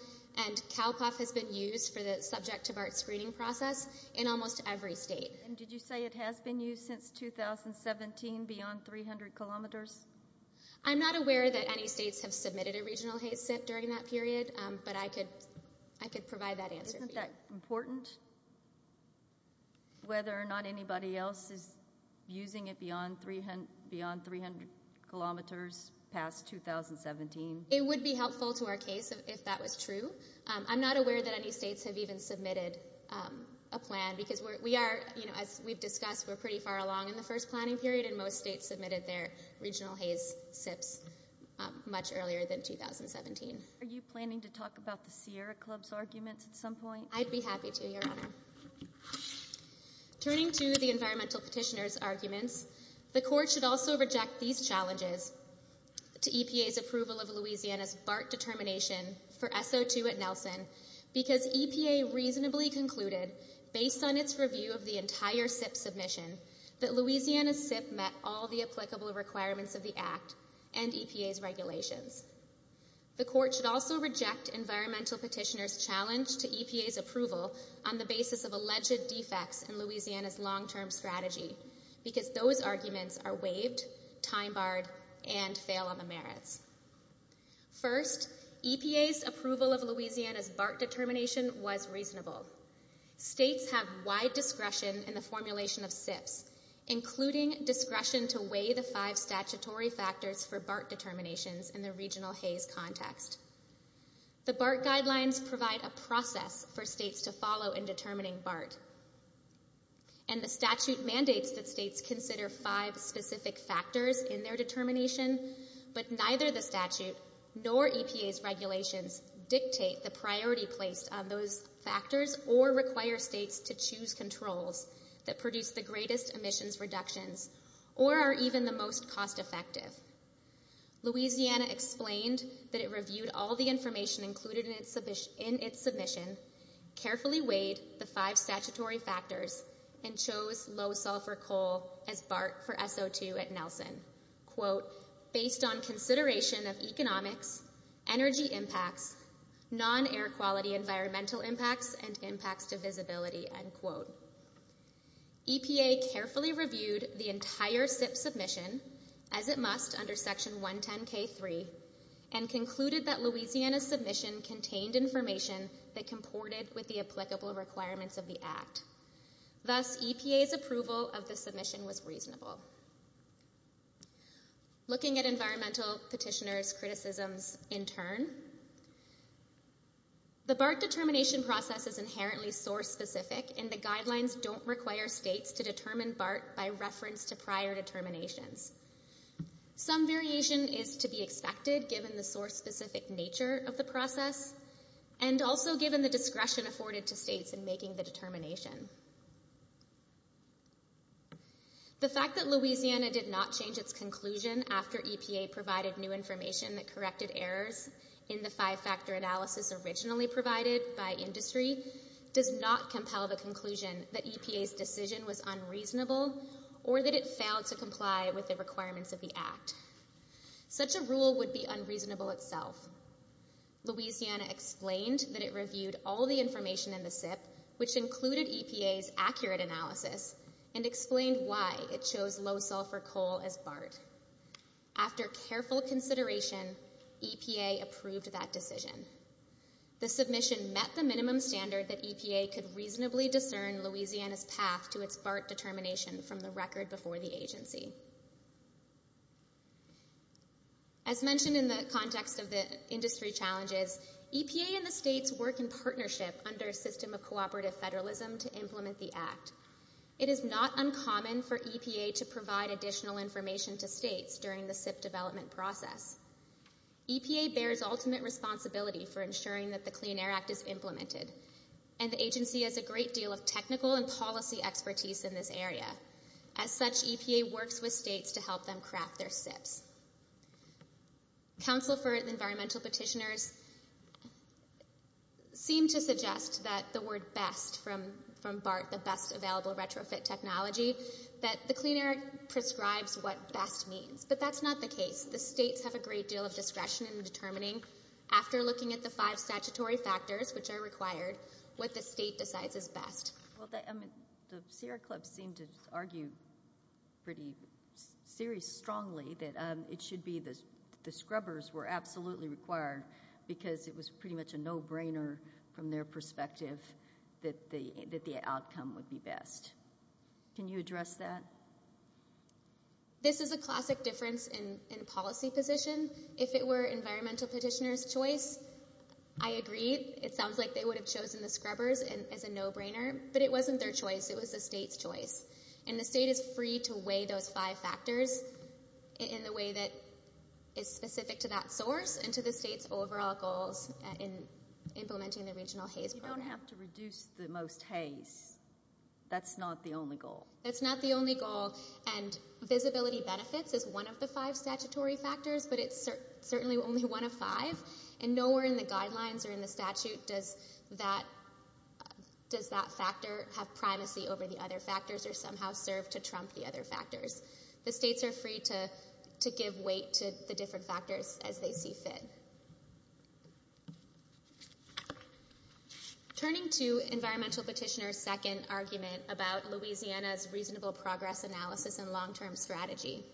and CALPUF has been used for the subject-of-art screening process in almost every state. And did you say it has been used since 2017 beyond 300 kilometers? I'm not aware that any states have submitted a regional HAVE SIF during that period, but I could provide that answer. Isn't that important, whether or not anybody else is using it beyond 300 kilometers past 2017? It would be helpful to our case if that was true. I'm not aware that any states have even submitted a plan because, as we've discussed, we're pretty far along in the first planning period, and most states submitted their regional HAVE SIFs much earlier than 2017. Are you planning to talk about the Sierra Club's argument at some point? I'd be happy to. Turning to the environmental petitioner's argument, the court should also reject these challenges to EPA's approval of Louisiana's BART determination for SO2 at Nelson because EPA reasonably concluded, based on its review of the entire SIF submission, that Louisiana's SIF met all the applicable requirements of the Act and EPA's regulations. The court should also reject environmental petitioner's challenge to EPA's approval on the basis of alleged defects in Louisiana's long-term strategy because those arguments are waived, time-barred, and fail on the merits. First, EPA's approval of Louisiana's BART determination was reasonable. States have wide discretion in the formulation of SIFs, including discretion to weigh the five statutory factors for BART determinations in the regional HAVE context. The BART guidelines provide a process for states to follow in determining BART, and the statute mandates that states consider five specific factors in their determination, but neither the statute nor EPA's regulations dictate the priority place of those factors or require states to choose controls that produce the greatest emissions reductions or are even the most cost-effective. Louisiana explained that it reviewed all the information included in its submission, carefully weighed the five statutory factors, and chose low-sulfur coal as BART for SO2 at Nelson. "...based on consideration of economic, energy impacts, non-air quality environmental impacts, and impacts to visibility." EPA carefully reviewed the entire SIF submission, as it must under Section 110k3, and concluded that Louisiana's submission contained information that comported with the applicable requirements of the Act. Thus, EPA's approval of the submission was reasonable. Looking at environmental petitioners' criticisms in turn, the BART determination process is inherently source-specific, and the guidelines don't require states to determine BART by reference to prior determinations. Some variation is to be expected, given the source-specific nature of the process, and also given the discretion afforded to states in making the determination. The fact that Louisiana did not change its conclusion after EPA provided new information that corrected errors in the five-factor analysis originally provided by industry does not compel the conclusion that EPA's decision was unreasonable or that it failed to comply with the requirements of the Act. Such a rule would be unreasonable itself. Louisiana explained that it reviewed all the information in the SIF, which included EPA's accurate analysis, and explained why it chose low-sulfur coal as BART. After careful consideration, EPA approved that decision. The submission met the minimum standard that EPA could reasonably discern Louisiana's path to its BART determination from the record before the agency. As mentioned in the context of the industry challenges, EPA and the states work in partnership under a system of cooperative federalism to implement the Act. It is not uncommon for EPA to provide additional information to states during the SIF development process. EPA bears ultimate responsibility for ensuring that the Clean Air Act is implemented, and the agency has a great deal of technical and policy expertise in this area. As such, EPA works with states to help them craft their SIFs. Council for Environmental Petitioners seem to suggest that the word best from BART, the best available retrofit technology, that the Clean Air Act prescribes what best means. But that's not the case. The states have a great deal of discretion in determining, after looking at the five statutory factors which are required, what the state decides is best. The Sierra Club seemed to argue very strongly that the scrubbers were absolutely required because it was pretty much a no-brainer from their perspective that the outcome would be best. Can you address that? This is a classic difference in policy positions. If it were Environmental Petitioners' choice, I agree. It sounds like they would have chosen the scrubbers as a no-brainer, but it wasn't their choice. It was the state's choice. And the state is free to weigh those five factors in the way that is specific to that source and to the state's overall goals in implementing the Regional Haze Program. You don't have to reduce the most haze. That's not the only goal. That's not the only goal, and visibility benefits is one of the five statutory factors, but it's certainly only one of five. And nowhere in the guidelines or in the statute does that factor have privacy over the other factors or somehow serve to trump the other factors. The states are free to give weight to the different factors as they see fit. Turning to Environmental Petitioners' second argument about Louisiana's reasonable progress analysis and long-term strategy.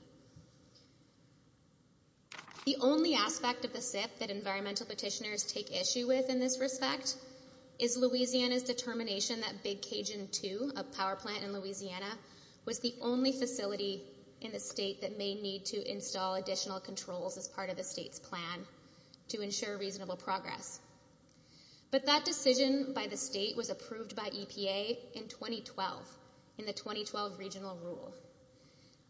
The only aspect of the fifth that Environmental Petitioners take issue with in this respect is Louisiana's determination that Big Cajun II, a power plant in Louisiana, was the only facility in the state that may need to install additional controls as part of the state's plan to ensure reasonable progress. But that decision by the state was approved by EPA in 2012 in the 2012 Regional Rules.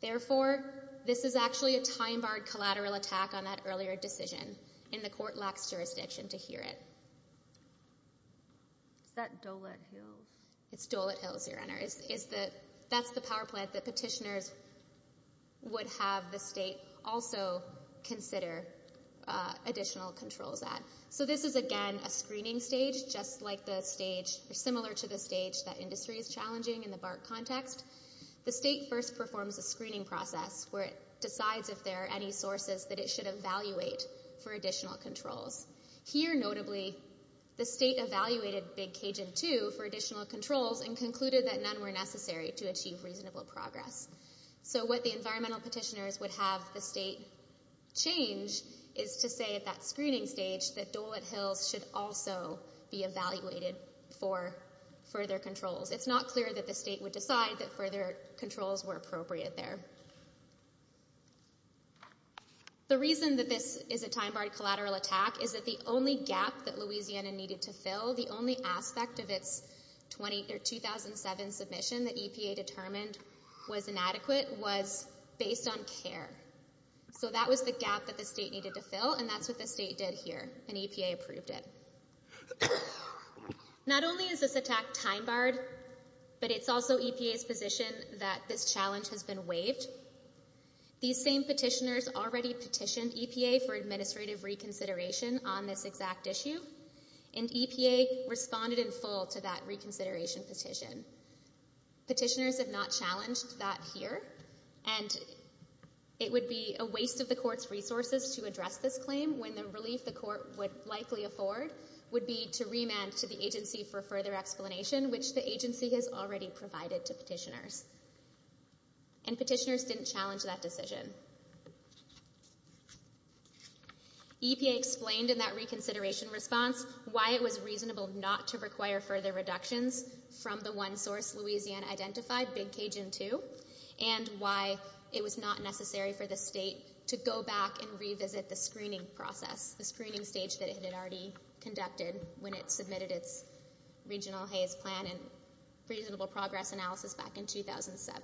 Therefore, this is actually a time-barred collateral attack on that earlier decision, and the court lacks jurisdiction to hear it. Is that Dolet Hill? It's Dolet Hill, Sierra Hunter. That's the power plant that Petitioners would have the state also consider additional control of that. So this is, again, a screening stage, just like the stage, similar to the stage that industry is challenging in the BART context. The state first performs a screening process where it decides if there are any sources that it should evaluate for additional controls. Here, notably, the state evaluated Big Cajun II for additional controls and concluded that none were necessary to achieve reasonable progress. So what the Environmental Petitioners would have the state change is to say at that screening stage that Dolet Hill should also be evaluated for further controls. It's not clear that the state would decide that further controls were appropriate there. The reason that this is a time-barred collateral attack is that the only gap that Louisiana needed to fill, the only aspect of its 2007 submission that EPA determined was inadequate, was based on care. So that was the gap that the state needed to fill, and that's what the state did here, and EPA approved it. Not only is this attack time-barred, but it's also EPA's position that this challenge has been waived. These same petitioners already petitioned EPA for administrative reconsideration on this exact issue, and EPA responded in full to that reconsideration petition. Petitioners have not challenged that here, and it would be a waste of the court's resources to address this claim when the relief the court would likely afford would be to remand to the agency for further explanation, which the agency has already provided to petitioners. And petitioners didn't challenge that decision. EPA explained in that reconsideration response why it was reasonable not to require further reductions from the one source Louisiana identified, Big Cajun II, and why it was not necessary for the state to go back and revisit the screening process, the screening stage that it had already conducted when it submitted its regional HAVE plan and reasonable progress analysis back in 2007.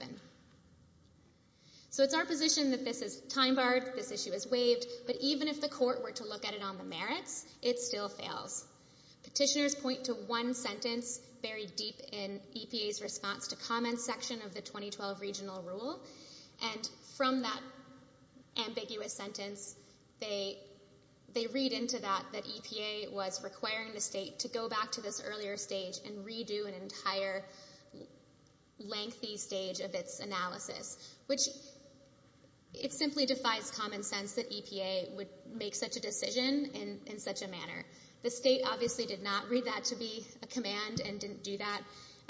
So it's our position that this is time-barred, this issue is waived, but even if the court were to look at it on the merits, it still fails. Petitioners point to one sentence buried deep in EPA's response to comments section of the 2012 regional rule, and from that ambiguous sentence, they read into that that EPA was requiring the state to go back to this earlier stage and redo an entire lengthy stage of its analysis, which it simply defies common sense that EPA would make such a decision in such a manner. The state obviously did not read that to be a command and didn't do that.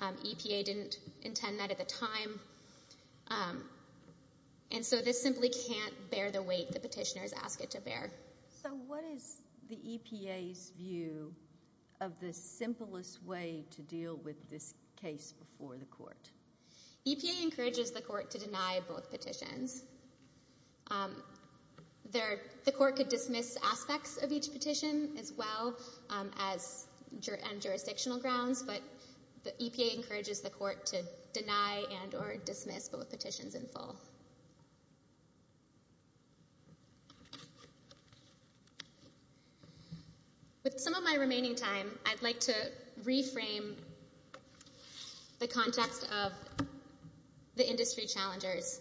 EPA didn't intend that at the time. And so this simply can't bear the weight that petitioners ask it to bear. So what is the EPA's view of the simplest way to deal with this case before the court? EPA encourages the court to deny both petitions. The court could dismiss aspects of each petition as well as jurisdictional grounds, but the EPA encourages the court to deny and or dismiss both petitions in full. With some of my remaining time, I'd like to reframe the context of the industry challengers.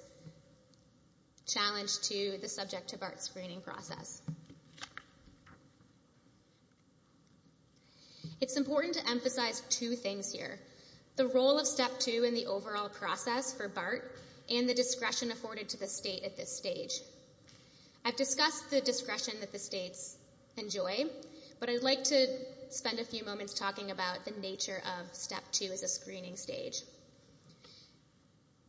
Challenge 2 is subject to BART screening process. It's important to emphasize two things here, the role of Step 2 in the overall process for BART and the discretion afforded to the state at this stage. I've discussed the discretion that the states enjoy, but I'd like to spend a few moments talking about the nature of Step 2 at the screening stage.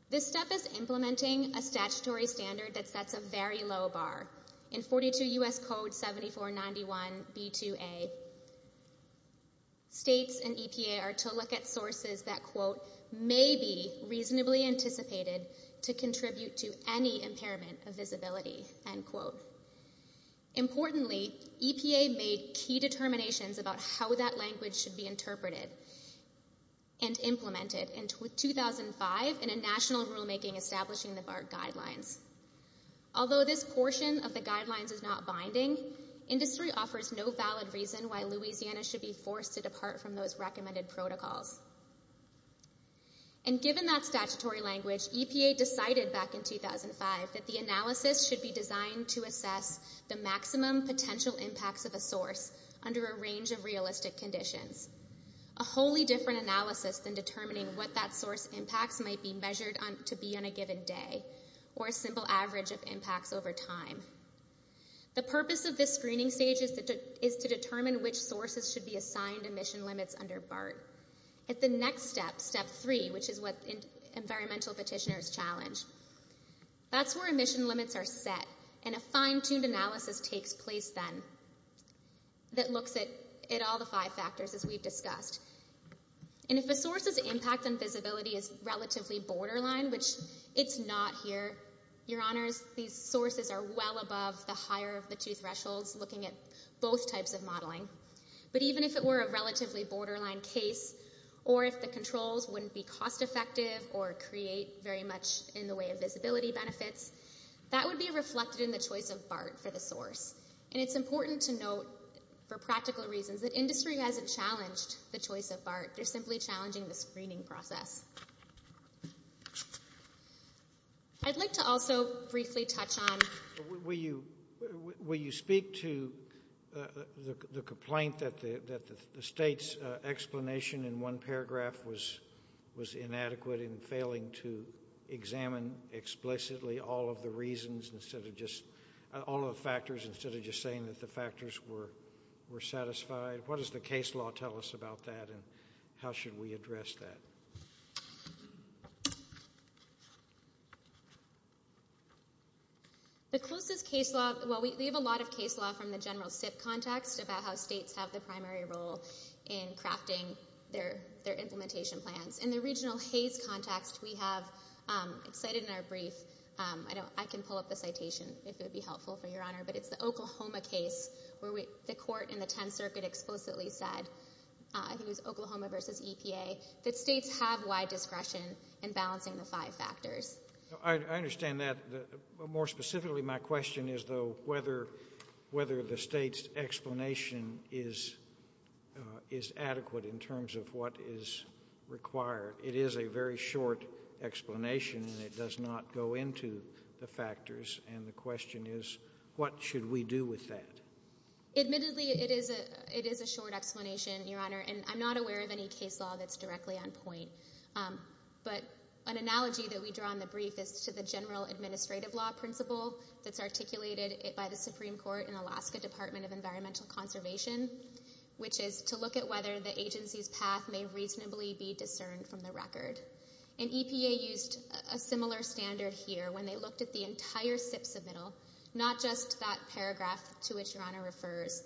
This step is implementing a statutory standard that sets a very low bar. In 42 U.S. Code 7491b2a, states and EPA are to look at sources that, quote, may be reasonably anticipated to contribute to any impairment of visibility, end quote. Importantly, EPA made key determinations about how that language should be interpreted and implemented in 2005 in a national rulemaking establishing the BART guidelines. Although this portion of the guidelines is not binding, industry offers no valid reason why Louisiana should be forced to depart from those recommended protocols. And given that statutory language, EPA decided back in 2005 that the analysis should be designed to assess the maximum potential impacts of a source under a range of realistic conditions. A wholly different analysis than determining what that source impact might be measured to be on a given day or a simple average of impacts over time. The purpose of this screening stage is to determine which sources should be assigned emission limits under BART. At the next step, Step 3, which is what environmental petitioners challenge, that's where emission limits are set and a fine-tuned analysis takes place then that looks at all the five factors as we've discussed. And if the source's impact on visibility is relatively borderline, which it's not here, your honors, these sources are well above the higher of the two thresholds looking at both types of modeling. But even if it were a relatively borderline case or if the controls wouldn't be cost-effective or create very much in the way of visibility benefits, that would be reflected in the choice of BART for the source. And it's important to note, for practical reasons, that industry hasn't challenged the choice of BART. They're simply challenging the screening process. I'd like to also briefly touch on... Will you speak to the complaint that the state's explanation in one paragraph was inadequate in failing to examine explicitly all of the factors instead of just saying that the factors were satisfied? What does the case law tell us about that and how should we address that? We have a lot of case law from the general context about how states have the primary role in crafting their implementation plan. In the regional case context, we have said in our brief, I can pull up the citations if it would be helpful for your honor, but it's the Oklahoma case where the court in the 10th Circuit explicitly said, it was Oklahoma versus EPA, that states have wide discretion in balancing the five factors. I understand that. More specifically, my question is, though, whether the state's explanation is adequate in terms of what is required. It is a very short explanation and it does not go into the factors, and the question is, what should we do with that? Admittedly, it is a short explanation, your honor, and I'm not aware of any case law that's directly on point. An analogy that we draw in the brief is to the general administrative law principle that's articulated by the Supreme Court in the Alaska Department of Environmental Conservation, which is to look at whether the agency's path may reasonably be discerned from the record. EPA used a similar standard here when they looked at the entire SIPP submittal, not just that paragraph to which your honor refers,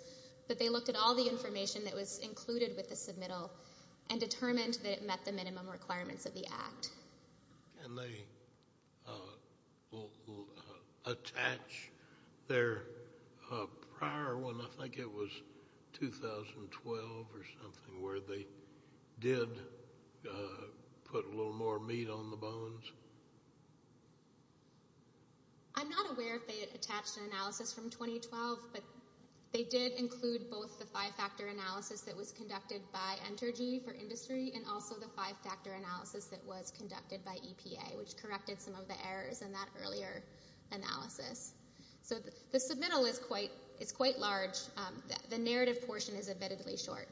but they looked at all the information that was included with the submittal and determined that it met the minimum requirements of the act. And they attach their prior one, I think it was 2012 or something, where they did put a little more meat on the bones? I'm not aware if they attached an analysis from 2012, but they did include both the five-factor analysis that was conducted by Entergy for Industry and also the five-factor analysis that was conducted by EPA, which corrected some of the errors in that earlier analysis. So the submittal is quite large. The narrative portion is admittedly short,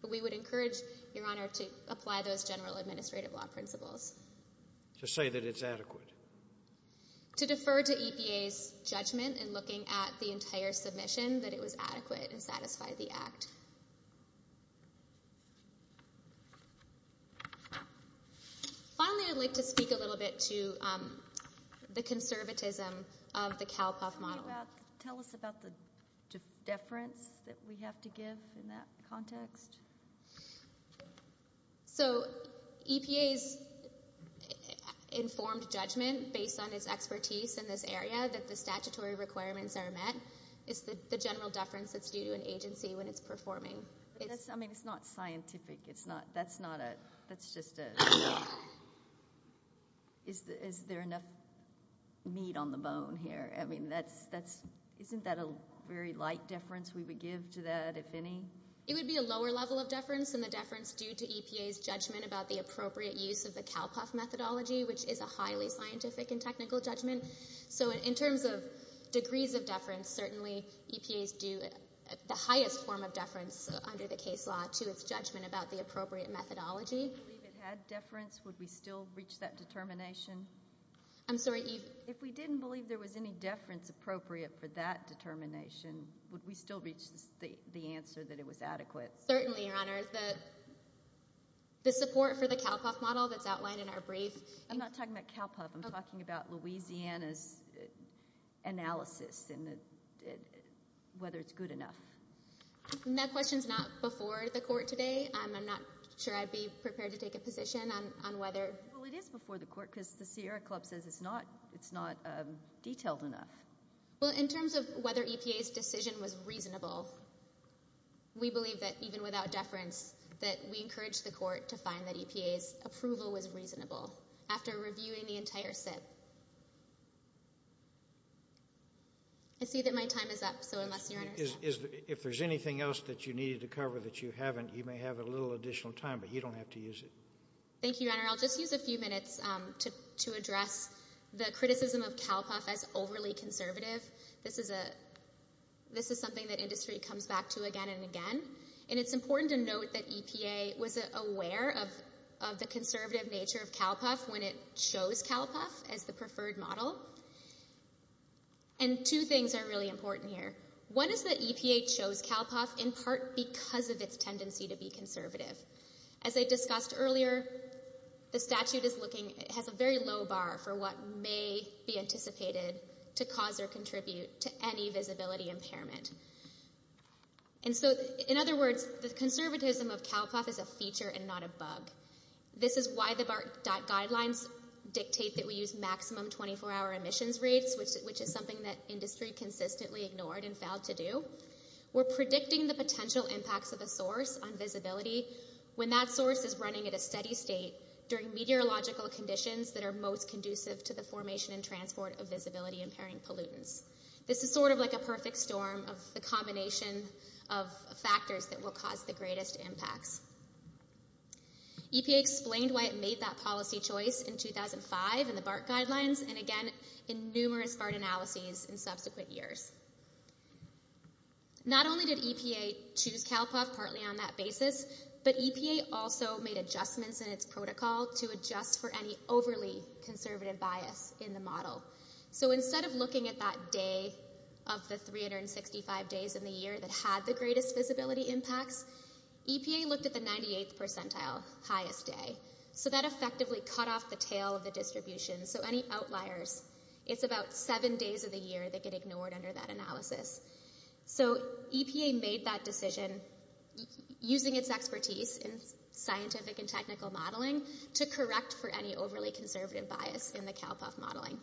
but we would encourage your honor to apply those general administrative law principles. To say that it's adequate. To defer to EPA's judgment in looking at the entire submission that it was adequate and satisfied the act. Finally, I'd like to speak a little bit to the conservatism of the CalPUF model. Can you tell us about the deference that we have to give in that context? So EPA's informed judgment, based on its expertise in this area, that the statutory requirements are met. It's the general deference to an agency when it's performing. I mean, it's not scientific. Is there enough meat on the bone here? I mean, isn't that a very light deference we would give to that, if any? It would be a lower level of deference than the deference due to EPA's judgment about the appropriate use of the CalPUF methodology, which is a highly scientific and technical judgment. So in terms of degrees of deference, certainly EPA's do the highest form of deference under the case law to its judgment about the appropriate methodology. If it had deference, would we still reach that determination? I'm sorry? If we didn't believe there was any deference appropriate for that determination, would we still reach the answer that it was adequate? Certainly, Your Honor. The support for the CalPUF model that's outlined in our brief— I'm not talking about CalPUF. I'm talking about Louisiana's analysis and whether it's good enough. That question's not before the Court today. I'm not sure I'd be prepared to take a position on whether— Well, it is before the Court because the Sierra Club says it's not detailed enough. Well, in terms of whether EPA's decision was reasonable, we believe that, even without deference, that we encourage the Court to find that EPA's approval was reasonable after reviewing the entire SIP. I see that my time is up, so I must be— If there's anything else that you needed to cover that you haven't, you may have a little additional time, but you don't have to use it. Thank you, Your Honor. I'll just use a few minutes to address the criticism of CalPUF as overly conservative. This is something that industry comes back to again and again, and it's important to note that EPA was aware of the conservative nature of CalPUF when it chose CalPUF as the preferred model. And two things are really important here. One is that EPA chose CalPUF in part because of its tendency to be conservative. As I discussed earlier, the statute has a very low bar for what may be anticipated to cause or contribute to any visibility impairment. And so, in other words, the conservatism of CalPUF is a feature and not a bug. This is why the BART guidelines dictate that we use maximum 24-hour emissions rates, which is something that industry consistently ignored and failed to do. We're predicting the potential impacts of the source on visibility when that source is running at a steady state during meteorological conditions that are most conducive to the formation and transport of visibility-impairing pollutants. This is sort of like a perfect storm of the combination of factors that will cause the greatest impact. EPA explained why it made that policy choice in 2005 in the BART guidelines, and again in numerous BART analyses in subsequent years. Not only did EPA choose CalPUF partly on that basis, but EPA also made adjustments in its protocol to adjust for any overly conservative bias in the model. So instead of looking at that day of the 365 days in the year that had the greatest visibility impact, EPA looked at the 98th percentile, highest day. So that effectively cut off the tail of the distribution, so any outliers. It's about seven days of the year that get ignored under that analysis. So EPA made that decision using its expertise in scientific and technical modeling to correct for any overly conservative bias in the CalPUF modeling.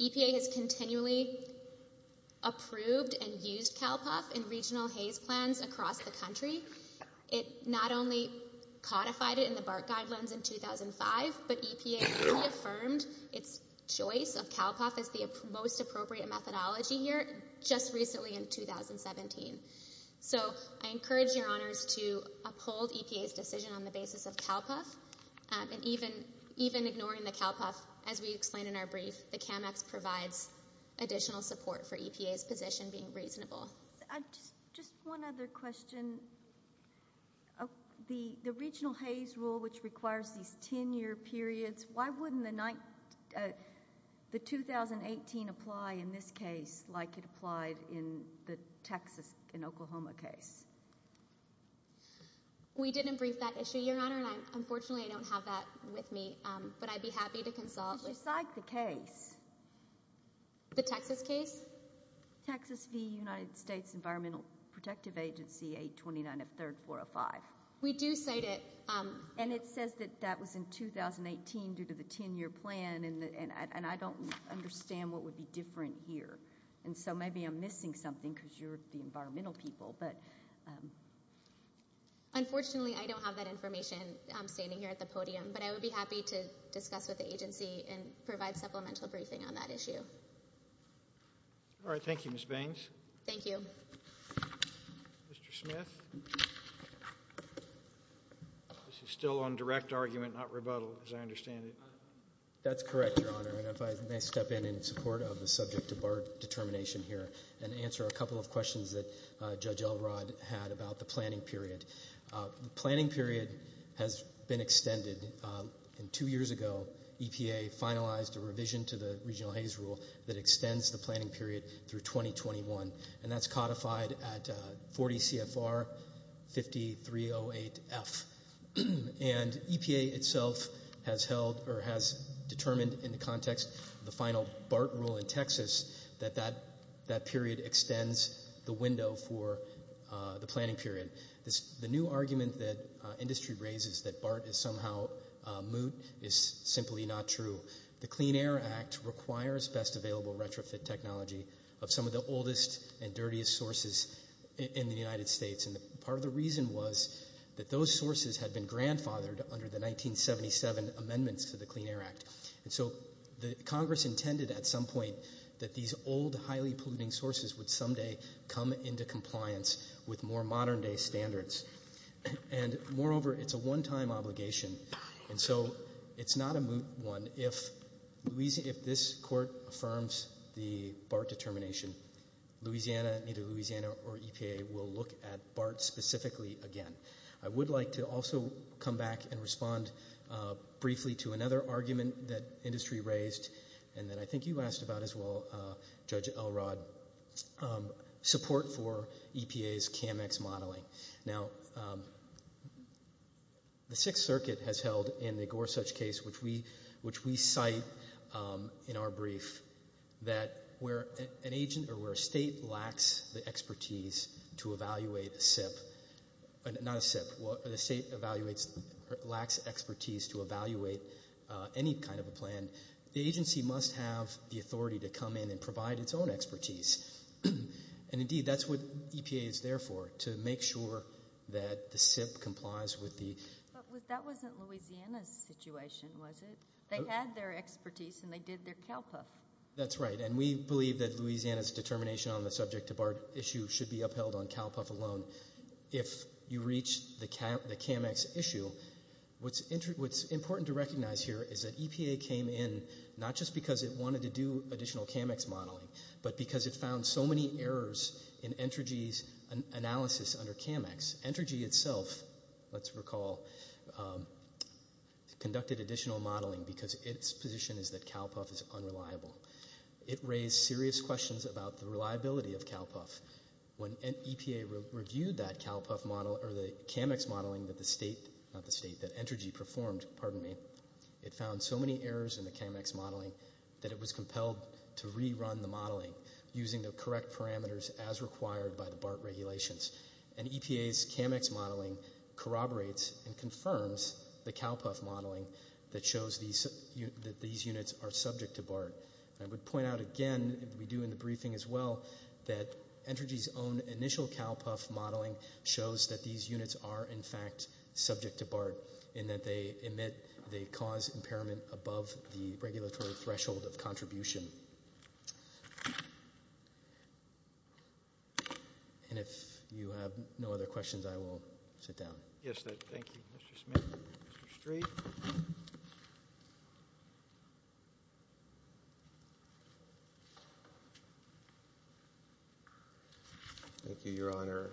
EPA has continually approved and used CalPUF in regional HAZE plans across the country. It not only codified it in the BART guidelines in 2005, but EPA also affirmed its choice of CalPUF as the most appropriate methodology here just recently in 2017. So I encourage your honors to uphold EPA's decision on the basis of CalPUF, and even ignoring the CalPUF, as we explained in our brief, it cannot provide additional support for EPA's position being reasonable. Just one other question. The regional HAZE rule, which requires these 10-year periods, why wouldn't the 2018 apply in this case like it applied in the Texas and Oklahoma case? We didn't brief that issue, Your Honor, and unfortunately I don't have that with me, but I'd be happy to consult. Besides the case. The Texas case? Texas v. United States Environmental Protective Agency, 829 of 3rd 405. We do cite it. And it says that that was in 2018 due to the 10-year plan, and I don't understand what would be different here. And so maybe I'm missing something because you're the environmental people. Unfortunately, I don't have that information standing here at the podium, but I would be happy to discuss with the agency and provide supplemental briefing on that issue. All right. Thank you, Ms. Baines. Thank you. Mr. Smith? This is still on direct argument, not rebuttal, as I understand it. That's correct, Your Honor, and if I may step in in support of the subject of our determination here and answer a couple of questions that Judge Elrod had about the planning period. The planning period has been extended. Two years ago, EPA finalized a revision to the Regional Haze Rule that extends the planning period through 2021, and that's codified at 40 CFR 5308F. And EPA itself has determined in the context of the final BART rule in Texas that that period extends the window for the planning period. The new argument that industry raises that BART is somehow moot is simply not true. The Clean Air Act requires best available retrofit technology of some of the oldest and dirtiest sources in the United States, and part of the reason was that those sources had been grandfathered under the 1977 amendments to the Clean Air Act. And so Congress intended at some point that these old, highly polluting sources would someday come into compliance with more modern-day standards. And moreover, it's a one-time obligation, and so it's not a moot one. If this Court affirms the BART determination, Louisiana, either Louisiana or EPA, will look at BART specifically again. I would like to also come back and respond briefly to another argument that industry raised, and that I think you asked about as well, Judge Elrod, support for EPA's CAMEX modeling. Now, the Sixth Circuit has held in the Gorsuch case, which we cite in our brief, that where an agent or where a state lacks the expertise to evaluate a SIP, not a SIP, where a state lacks expertise to evaluate any kind of a plan, the agency must have the authority to come in and provide its own expertise. And indeed, that's what EPA is there for, to make sure that the SIP complies with the— But that wasn't Louisiana's situation, was it? They had their expertise, and they did their CalPERS. That's right, and we believe that Louisiana's determination on the subject of our issue should be upheld on CalPERS alone. If you reach the CAMEX issue, what's important to recognize here is that EPA came in not just because it wanted to do additional CAMEX modeling, but because it found so many errors in Entergy's analysis under CAMEX. Entergy itself, let's recall, conducted additional modeling because its position is that CalPUF is unreliable. It raised serious questions about the reliability of CalPUF. When EPA reviewed that CAMEX modeling that Entergy performed, it found so many errors in the CAMEX modeling that it was compelled to rerun the modeling using the correct parameters as required by the BART regulations. And EPA's CAMEX modeling corroborates and confirms the CalPUF modeling that shows that these units are subject to BART. I would point out again, as we do in the briefing as well, that Entergy's own initial CalPUF modeling shows that these units are, in fact, subject to BART in that they cause impairment above the regulatory threshold of contribution. And if you have no other questions, I will sit down. Yes, thank you, Mr. Smith. Mr. Street? Thank you, Your Honor.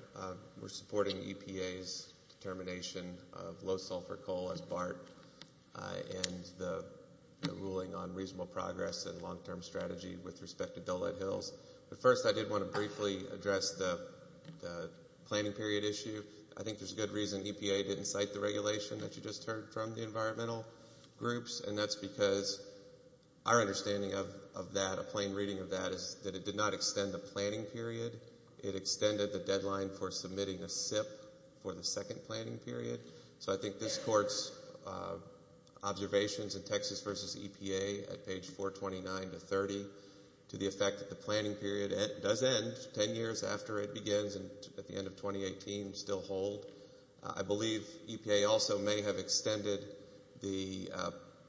We're supporting EPA's determination of low-sulfur coal as BART and the ruling on reasonable progress and long-term strategy with respect to bellite hills. But first, I did want to briefly address the planning period issue. I think there's good reason EPA didn't cite the regulation that you just heard from the environmental groups, and that's because our understanding of that, a plain reading of that, is that it did not extend the planning period. It extended the deadline for submitting a SIP for the second planning period. So I think this court's observations in Texas v. EPA, at page 429 to 30, to the effect that the planning period does end 10 years after it begins at the end of 2018 and still hold. I believe EPA also may have extended the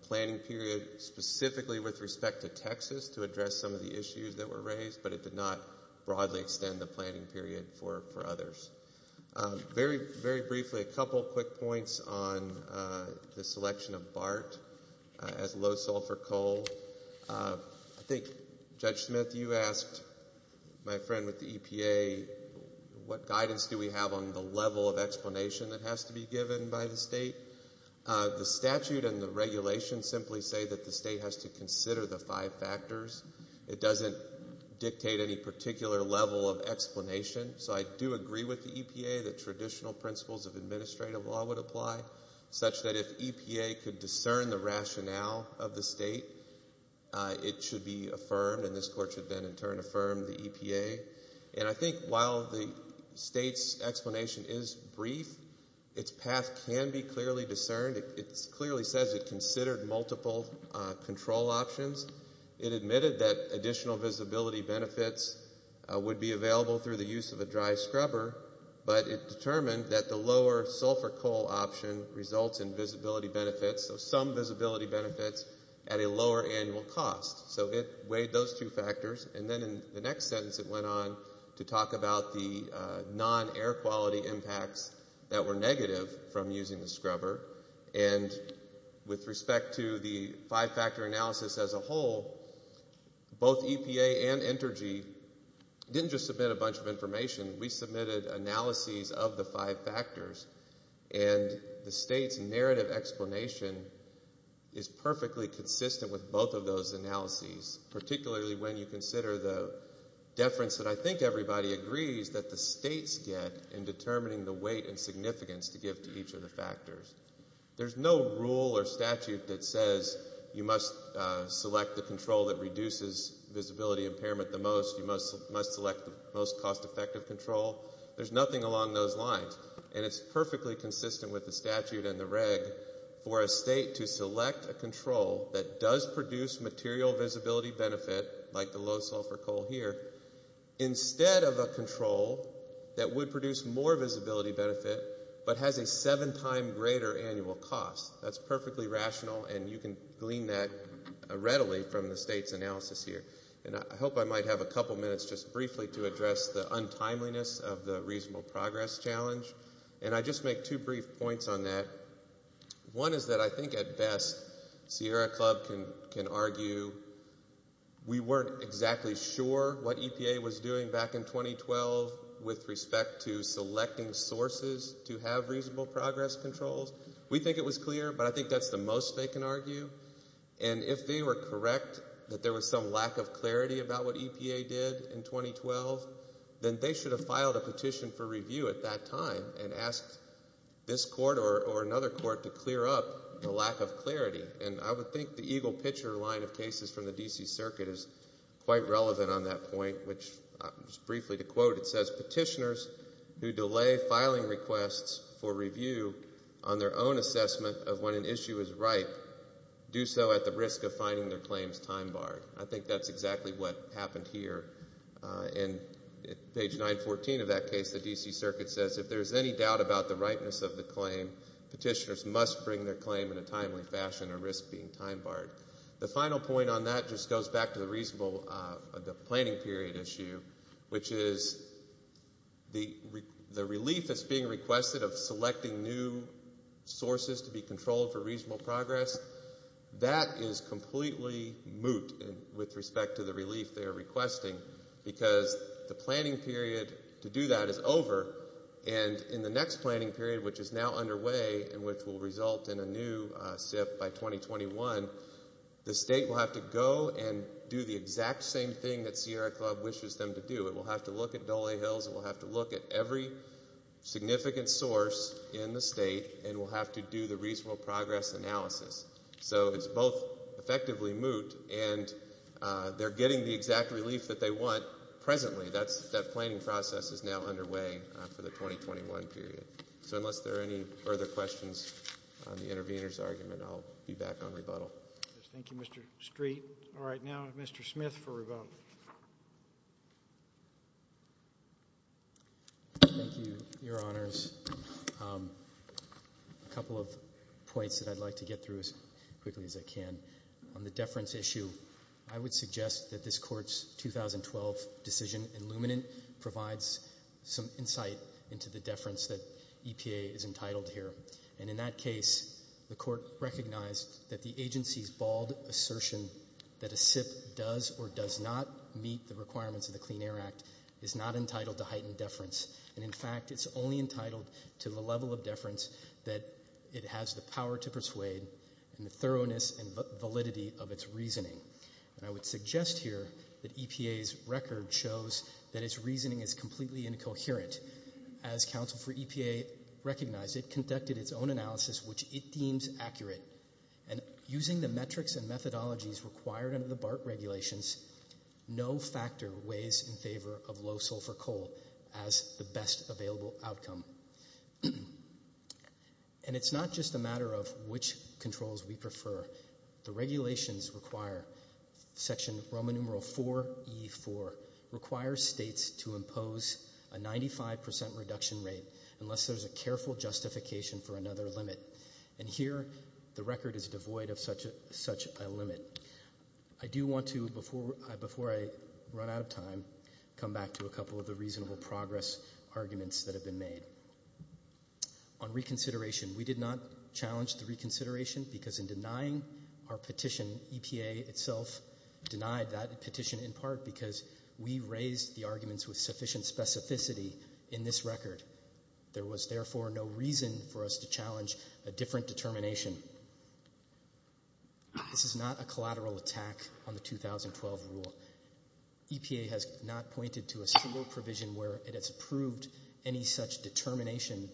planning period specifically with respect to Texas to address some of the issues that were raised, but it did not broadly extend the planning period for others. Very briefly, a couple of quick points on the selection of BART as low-sulfur coal. I think, Judge Smith, you asked my friend with the EPA, what guidance do we have on the level of explanation that has to be given by the state? The statute and the regulation simply say that the state has to consider the five factors. It doesn't dictate any particular level of explanation. So I do agree with the EPA that traditional principles of administrative law would apply, such that if EPA could discern the rationale of the state, it should be affirmed, and this court should then in turn affirm the EPA. And I think while the state's explanation is brief, its path can be clearly discerned. It clearly says it considered multiple control options. It admitted that additional visibility benefits would be available through the use of a dry scrubber, but it determined that the lower-sulfur coal option results in visibility benefits, so some visibility benefits at a lower annual cost. So it weighed those two factors. And then in the next sentence it went on to talk about the non-air quality impacts that were negative from using the scrubber. And with respect to the five-factor analysis as a whole, both EPA and Entergy didn't just submit a bunch of information. We submitted analyses of the five factors, and the state's narrative explanation is perfectly consistent with both of those analyses, particularly when you consider the deference that I think everybody agrees that the states get in determining the weight and significance to give to each of the factors. There's no rule or statute that says you must select the control that reduces visibility impairment the most, you must select the most cost-effective control. There's nothing along those lines. And it's perfectly consistent with the statute and the reg for a state to select a control that does produce material visibility benefit, like the low-sulfur coal here, instead of a control that would produce more visibility benefit but has a seven-time greater annual cost. That's perfectly rational, and you can glean that readily from the state's analysis here. And I hope I might have a couple minutes just briefly to address the untimeliness of the reasonable progress challenge. And I'll just make two brief points on that. One is that I think at best Sierra Club can argue we weren't exactly sure what EPA was doing back in 2012 with respect to selecting sources to have reasonable progress controls. We think it was clear, but I think that's the most they can argue. And if they were correct that there was some lack of clarity about what EPA did in 2012, then they should have filed a petition for review at that time and asked this court or another court to clear up the lack of clarity. And I would think the evil picture line of cases from the D.C. Circuit is quite relevant on that point, which just briefly to quote, it says, Petitioners who delay filing requests for review on their own assessment of when an issue is right do so at the risk of finding their claims time-barred. I think that's exactly what happened here. In page 914 of that case, the D.C. Circuit says, If there's any doubt about the rightness of the claim, petitioners must bring their claim in a timely fashion or risk being time-barred. The final point on that just goes back to the reasonable planning period issue, which is the relief that's being requested of selecting new sources to be controlled for reasonable progress, that is completely moot with respect to the relief they're requesting because the planning period to do that is over. And in the next planning period, which is now underway and which will result in a new SIF by 2021, the state will have to go and do the exact same thing that CR Club wishes them to do. It will have to look at Dole Hills. It will have to look at every significant source in the state, and will have to do the reasonable progress analysis. So it's both effectively moot, and they're getting the exact relief that they want presently. That planning process is now underway for the 2021 period. So unless there are any further questions on the intervener's argument, I'll be back on rebuttal. Thank you, Mr. Street. All right, now Mr. Smith for rebuttal. Thank you, Your Honors. A couple of points that I'd like to get through as quickly as I can. On the deference issue, I would suggest that this Court's 2012 decision in Luminant provides some insight into the deference that EPA is entitled here. And in that case, the Court recognized that the agency's bald assertion that a SIF does or does not meet the requirements of the Clean Air Act is not entitled to heightened deference. And in fact, it's only entitled to the level of deference that it has the power to persuade and the thoroughness and validity of its reasoning. And I would suggest here that EPA's record shows that its reasoning is completely incoherent. As counsel for EPA recognized, it conducted its own analysis, which it deems accurate. And using the metrics and methodologies required under the BART regulations, no factor weighs in favor of low sulfur coal as the best available outcome. And it's not just a matter of which controls we prefer. The regulations require section Roman numeral 4E4, requires states to impose a 95% reduction rate unless there's a careful justification for another limit. And here the record is devoid of such a limit. I do want to, before I run out of time, come back to a couple of the reasonable progress arguments that have been made. On reconsideration, we did not challenge the reconsideration because in denying our petition, EPA itself denied that petition in part because we raised the arguments with sufficient specificity in this record. There was therefore no reason for us to challenge a different determination. This is not a collateral attack on the 2012 rule. EPA has not pointed to a single provision where it has proved any such determination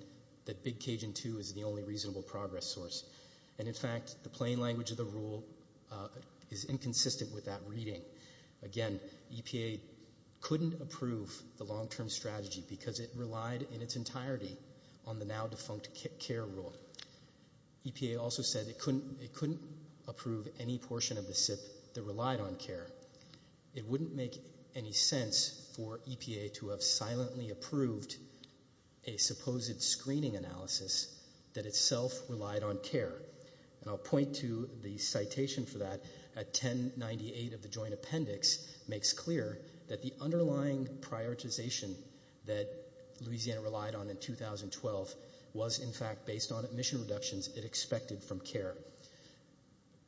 that Big Cajun II is the only reasonable progress source. And in fact, the plain language of the rule is inconsistent with that reading. Again, EPA couldn't approve the long-term strategy because it relied in its entirety on the now defunct CARE rule. EPA also said it couldn't approve any portion of the SIP that relied on CARE. It wouldn't make any sense for EPA to have silently approved a supposed screening analysis that itself relied on CARE. And I'll point to the citation for that. A 1098 of the joint appendix makes clear that the underlying prioritization that Louisiana relied on in 2012 was in fact based on admission reductions it expected from CARE.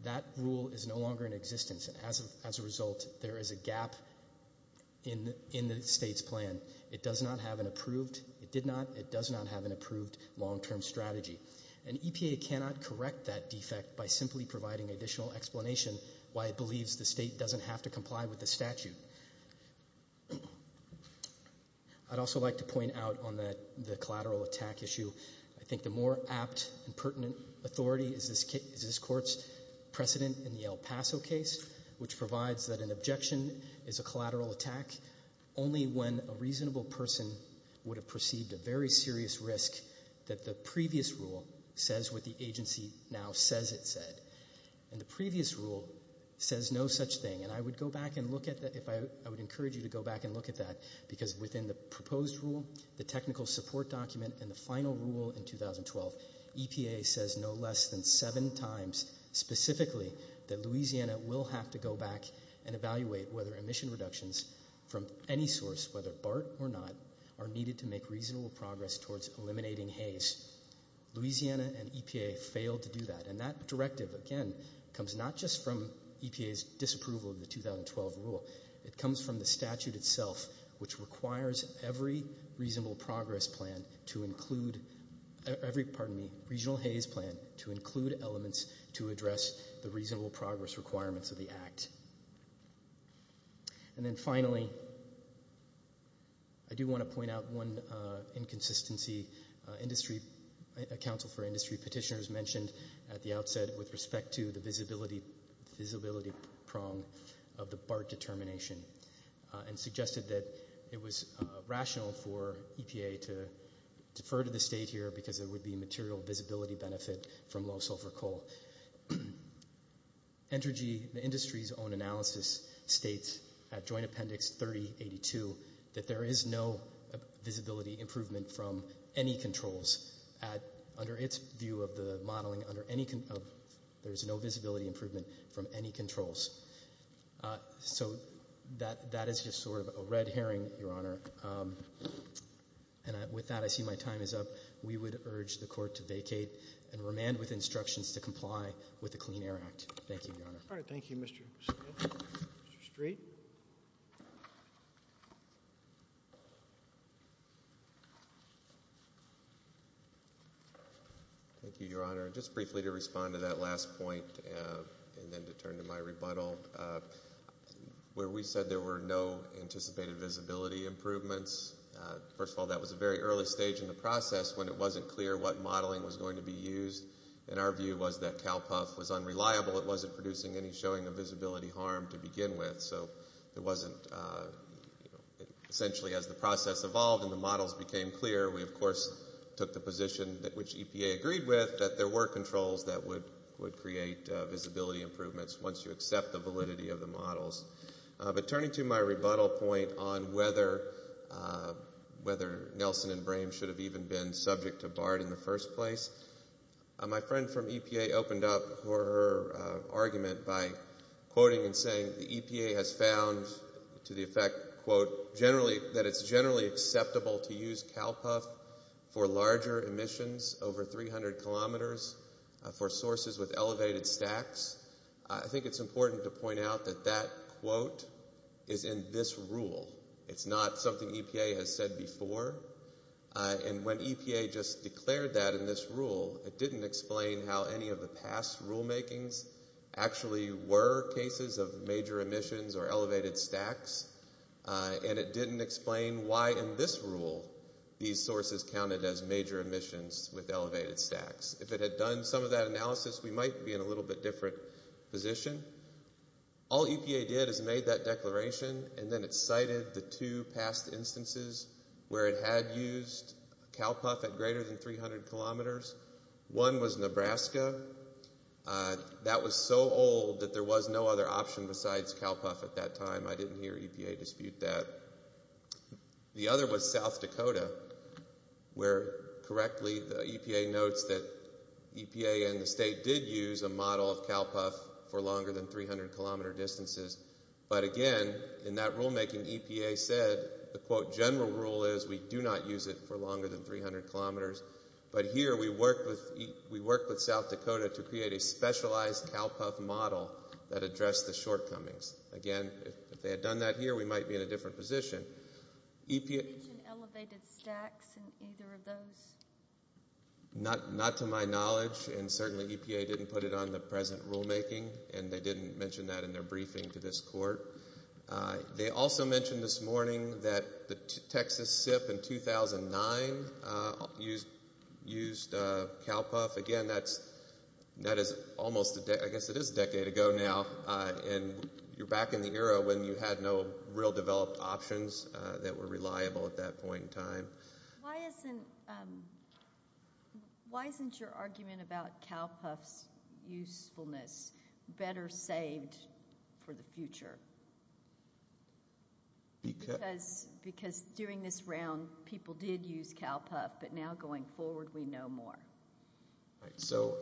That rule is no longer in existence. As a result, there is a gap in the state's plan. It does not have an approved long-term strategy. And EPA cannot correct that defect by simply providing additional explanation why it believes the state doesn't have to comply with the statute. I'd also like to point out on the collateral attack issue, I think the more apt and pertinent authority is this court's precedent in the El Paso case, which provides that an objection is a collateral attack only when a reasonable person would have perceived a very serious risk that the previous rule says what the agency now says it said. And the previous rule says no such thing. And I would encourage you to go back and look at that, because within the proposed rule, the technical support document, and the final rule in 2012, EPA says no less than seven times specifically that Louisiana will have to go back and evaluate whether admission reductions from any source, whether BART or not, are needed to make reasonable progress towards eliminating Hays. Louisiana and EPA failed to do that. And that directive, again, comes not just from EPA's disapproval of the 2012 rule. It comes from the statute itself, which requires every reasonable progress plan to include – every, pardon me, regional Hays plan to include elements to address the reasonable progress requirements of the act. And then finally, I do want to point out one inconsistency. A council for industry petitioner has mentioned at the outset with respect to the visibility prong of the BART determination and suggested that it was rational for EPA to defer to the state here because there would be material visibility benefit from low sulfur coal. Entergy Industries' own analysis states at Joint Appendix 3082 that there is no visibility improvement from any controls. Under its view of the modeling, there is no visibility improvement from any controls. So that is just sort of a red herring, Your Honor. And with that, I see my time is up. We would urge the court to vacate and remand with instructions to comply with the Clean Air Act. Thank you, Your Honor. All right. Thank you, Mr. Street. Mr. Street? Thank you, Your Honor. Just briefly to respond to that last point and then to turn to my rebuttal. Where we said there were no anticipated visibility improvements, first of all, that was a very early stage in the process when it wasn't clear what modeling was going to be used. And our view was that CALPUF was unreliable. It wasn't producing any showing of visibility harm to begin with. So it wasn't essentially as the process evolved and the models became clear, we, of course, took the position which EPA agreed with that there were controls that would create visibility improvements once you accept the validity of the models. But turning to my rebuttal point on whether Nelson and Brame should have even been subject to BART in the first place, my friend from EPA opened up her argument by quoting and saying, the EPA has found to the effect, quote, that it's generally acceptable to use CALPUF for larger emissions, over 300 kilometers, for sources with elevated stacks. I think it's important to point out that that quote is in this rule. It's not something EPA has said before. And when EPA just declared that in this rule, it didn't explain how any of the past rulemakings actually were cases of major emissions or elevated stacks, and it didn't explain why in this rule these sources counted as major emissions with elevated stacks. If it had done some of that analysis, we might be in a little bit different position. All EPA did is made that declaration and then it cited the two past instances where it had used CALPUF at greater than 300 kilometers. One was Nebraska. That was so old that there was no other option besides CALPUF at that time. I didn't hear EPA dispute that. The other was South Dakota where, correctly, EPA notes that EPA and the state did use a model of CALPUF for longer than 300 kilometer distances. But again, in that rulemaking, EPA said the quote general rule is we do not use it for longer than 300 kilometers. But here we work with South Dakota to create a specialized CALPUF model that addressed the shortcomings. Again, if they had done that here, we might be in a different position. Did they use elevated stacks in either of those? Not to my knowledge, and certainly EPA didn't put it on the present rulemaking, and they didn't mention that in their briefing to this court. They also mentioned this morning that the Texas SIP in 2009 used CALPUF. Again, that is almost a decade ago now. You're back in the era when you had no real developed options that were reliable at that point in time. Why isn't your argument about CALPUF usefulness better saved for the future? Because during this round, people did use CALPUF, but now going forward, we know more. So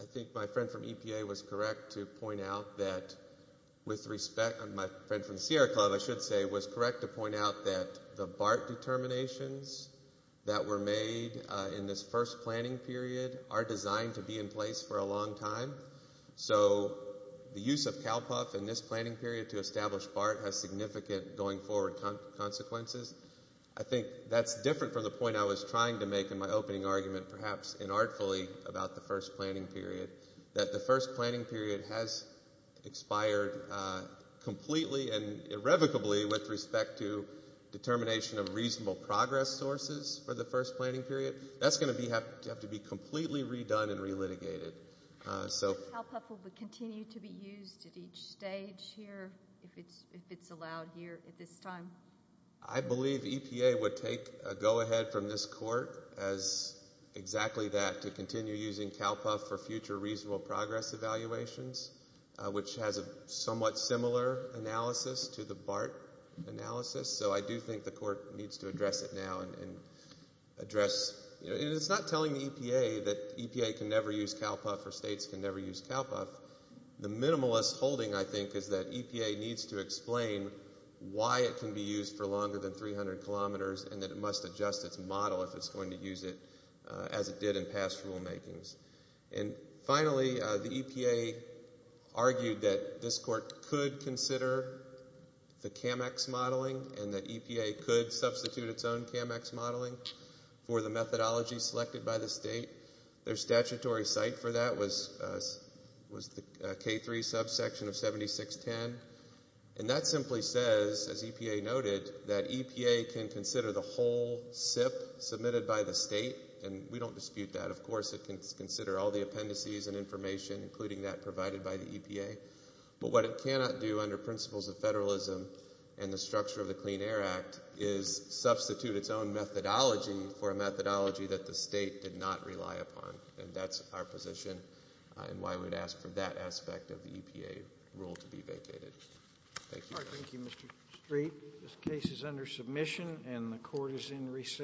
I think my friend from EPA was correct to point out that with respect, and my friend from CRCOG, I should say, was correct to point out that the BART determinations that were made in this first planning period are designed to be in place for a long time. So the use of CALPUF in this planning period to establish BART has significant going forward consequences. I think that's different from the point I was trying to make in my opening argument, perhaps inartfully, about the first planning period, that the first planning period has expired completely and irrevocably with respect to determination of reasonable progress sources for the first planning period. That's going to have to be completely redone and relitigated. So CALPUF will continue to be used at each stage here if it's allowed here, if it's time. I believe EPA would take a go-ahead from this court as exactly that, to continue using CALPUF for future reasonable progress evaluations, which has a somewhat similar analysis to the BART analysis. So I do think the court needs to address it now. And it's not telling EPA that EPA can never use CALPUF or states can never use CALPUF. The minimalist holding, I think, is that EPA needs to explain why it can be used for longer than 300 kilometers and that it must adjust its model if it's going to use it as it did in past rulemakings. And finally, the EPA argued that this court could consider the CAMEX modeling and that EPA could substitute its own CAMEX modeling for the methodology selected by the state. Their statutory site for that was the K-3 subsection of 7610. And that simply says, as EPA noted, that EPA can consider the whole SIF submitted by the state, and we don't dispute that. Of course, it can consider all the appendices and information, including that provided by the EPA. But what it cannot do under principles of federalism and the structure of the Clean Air Act is substitute its own methodology for a methodology that the state did not rely upon. And that's our position and why we would ask for that aspect of the EPA rule to be vacated. Thank you. Thank you, Mr. Street. This case is under submission and the court is in recess.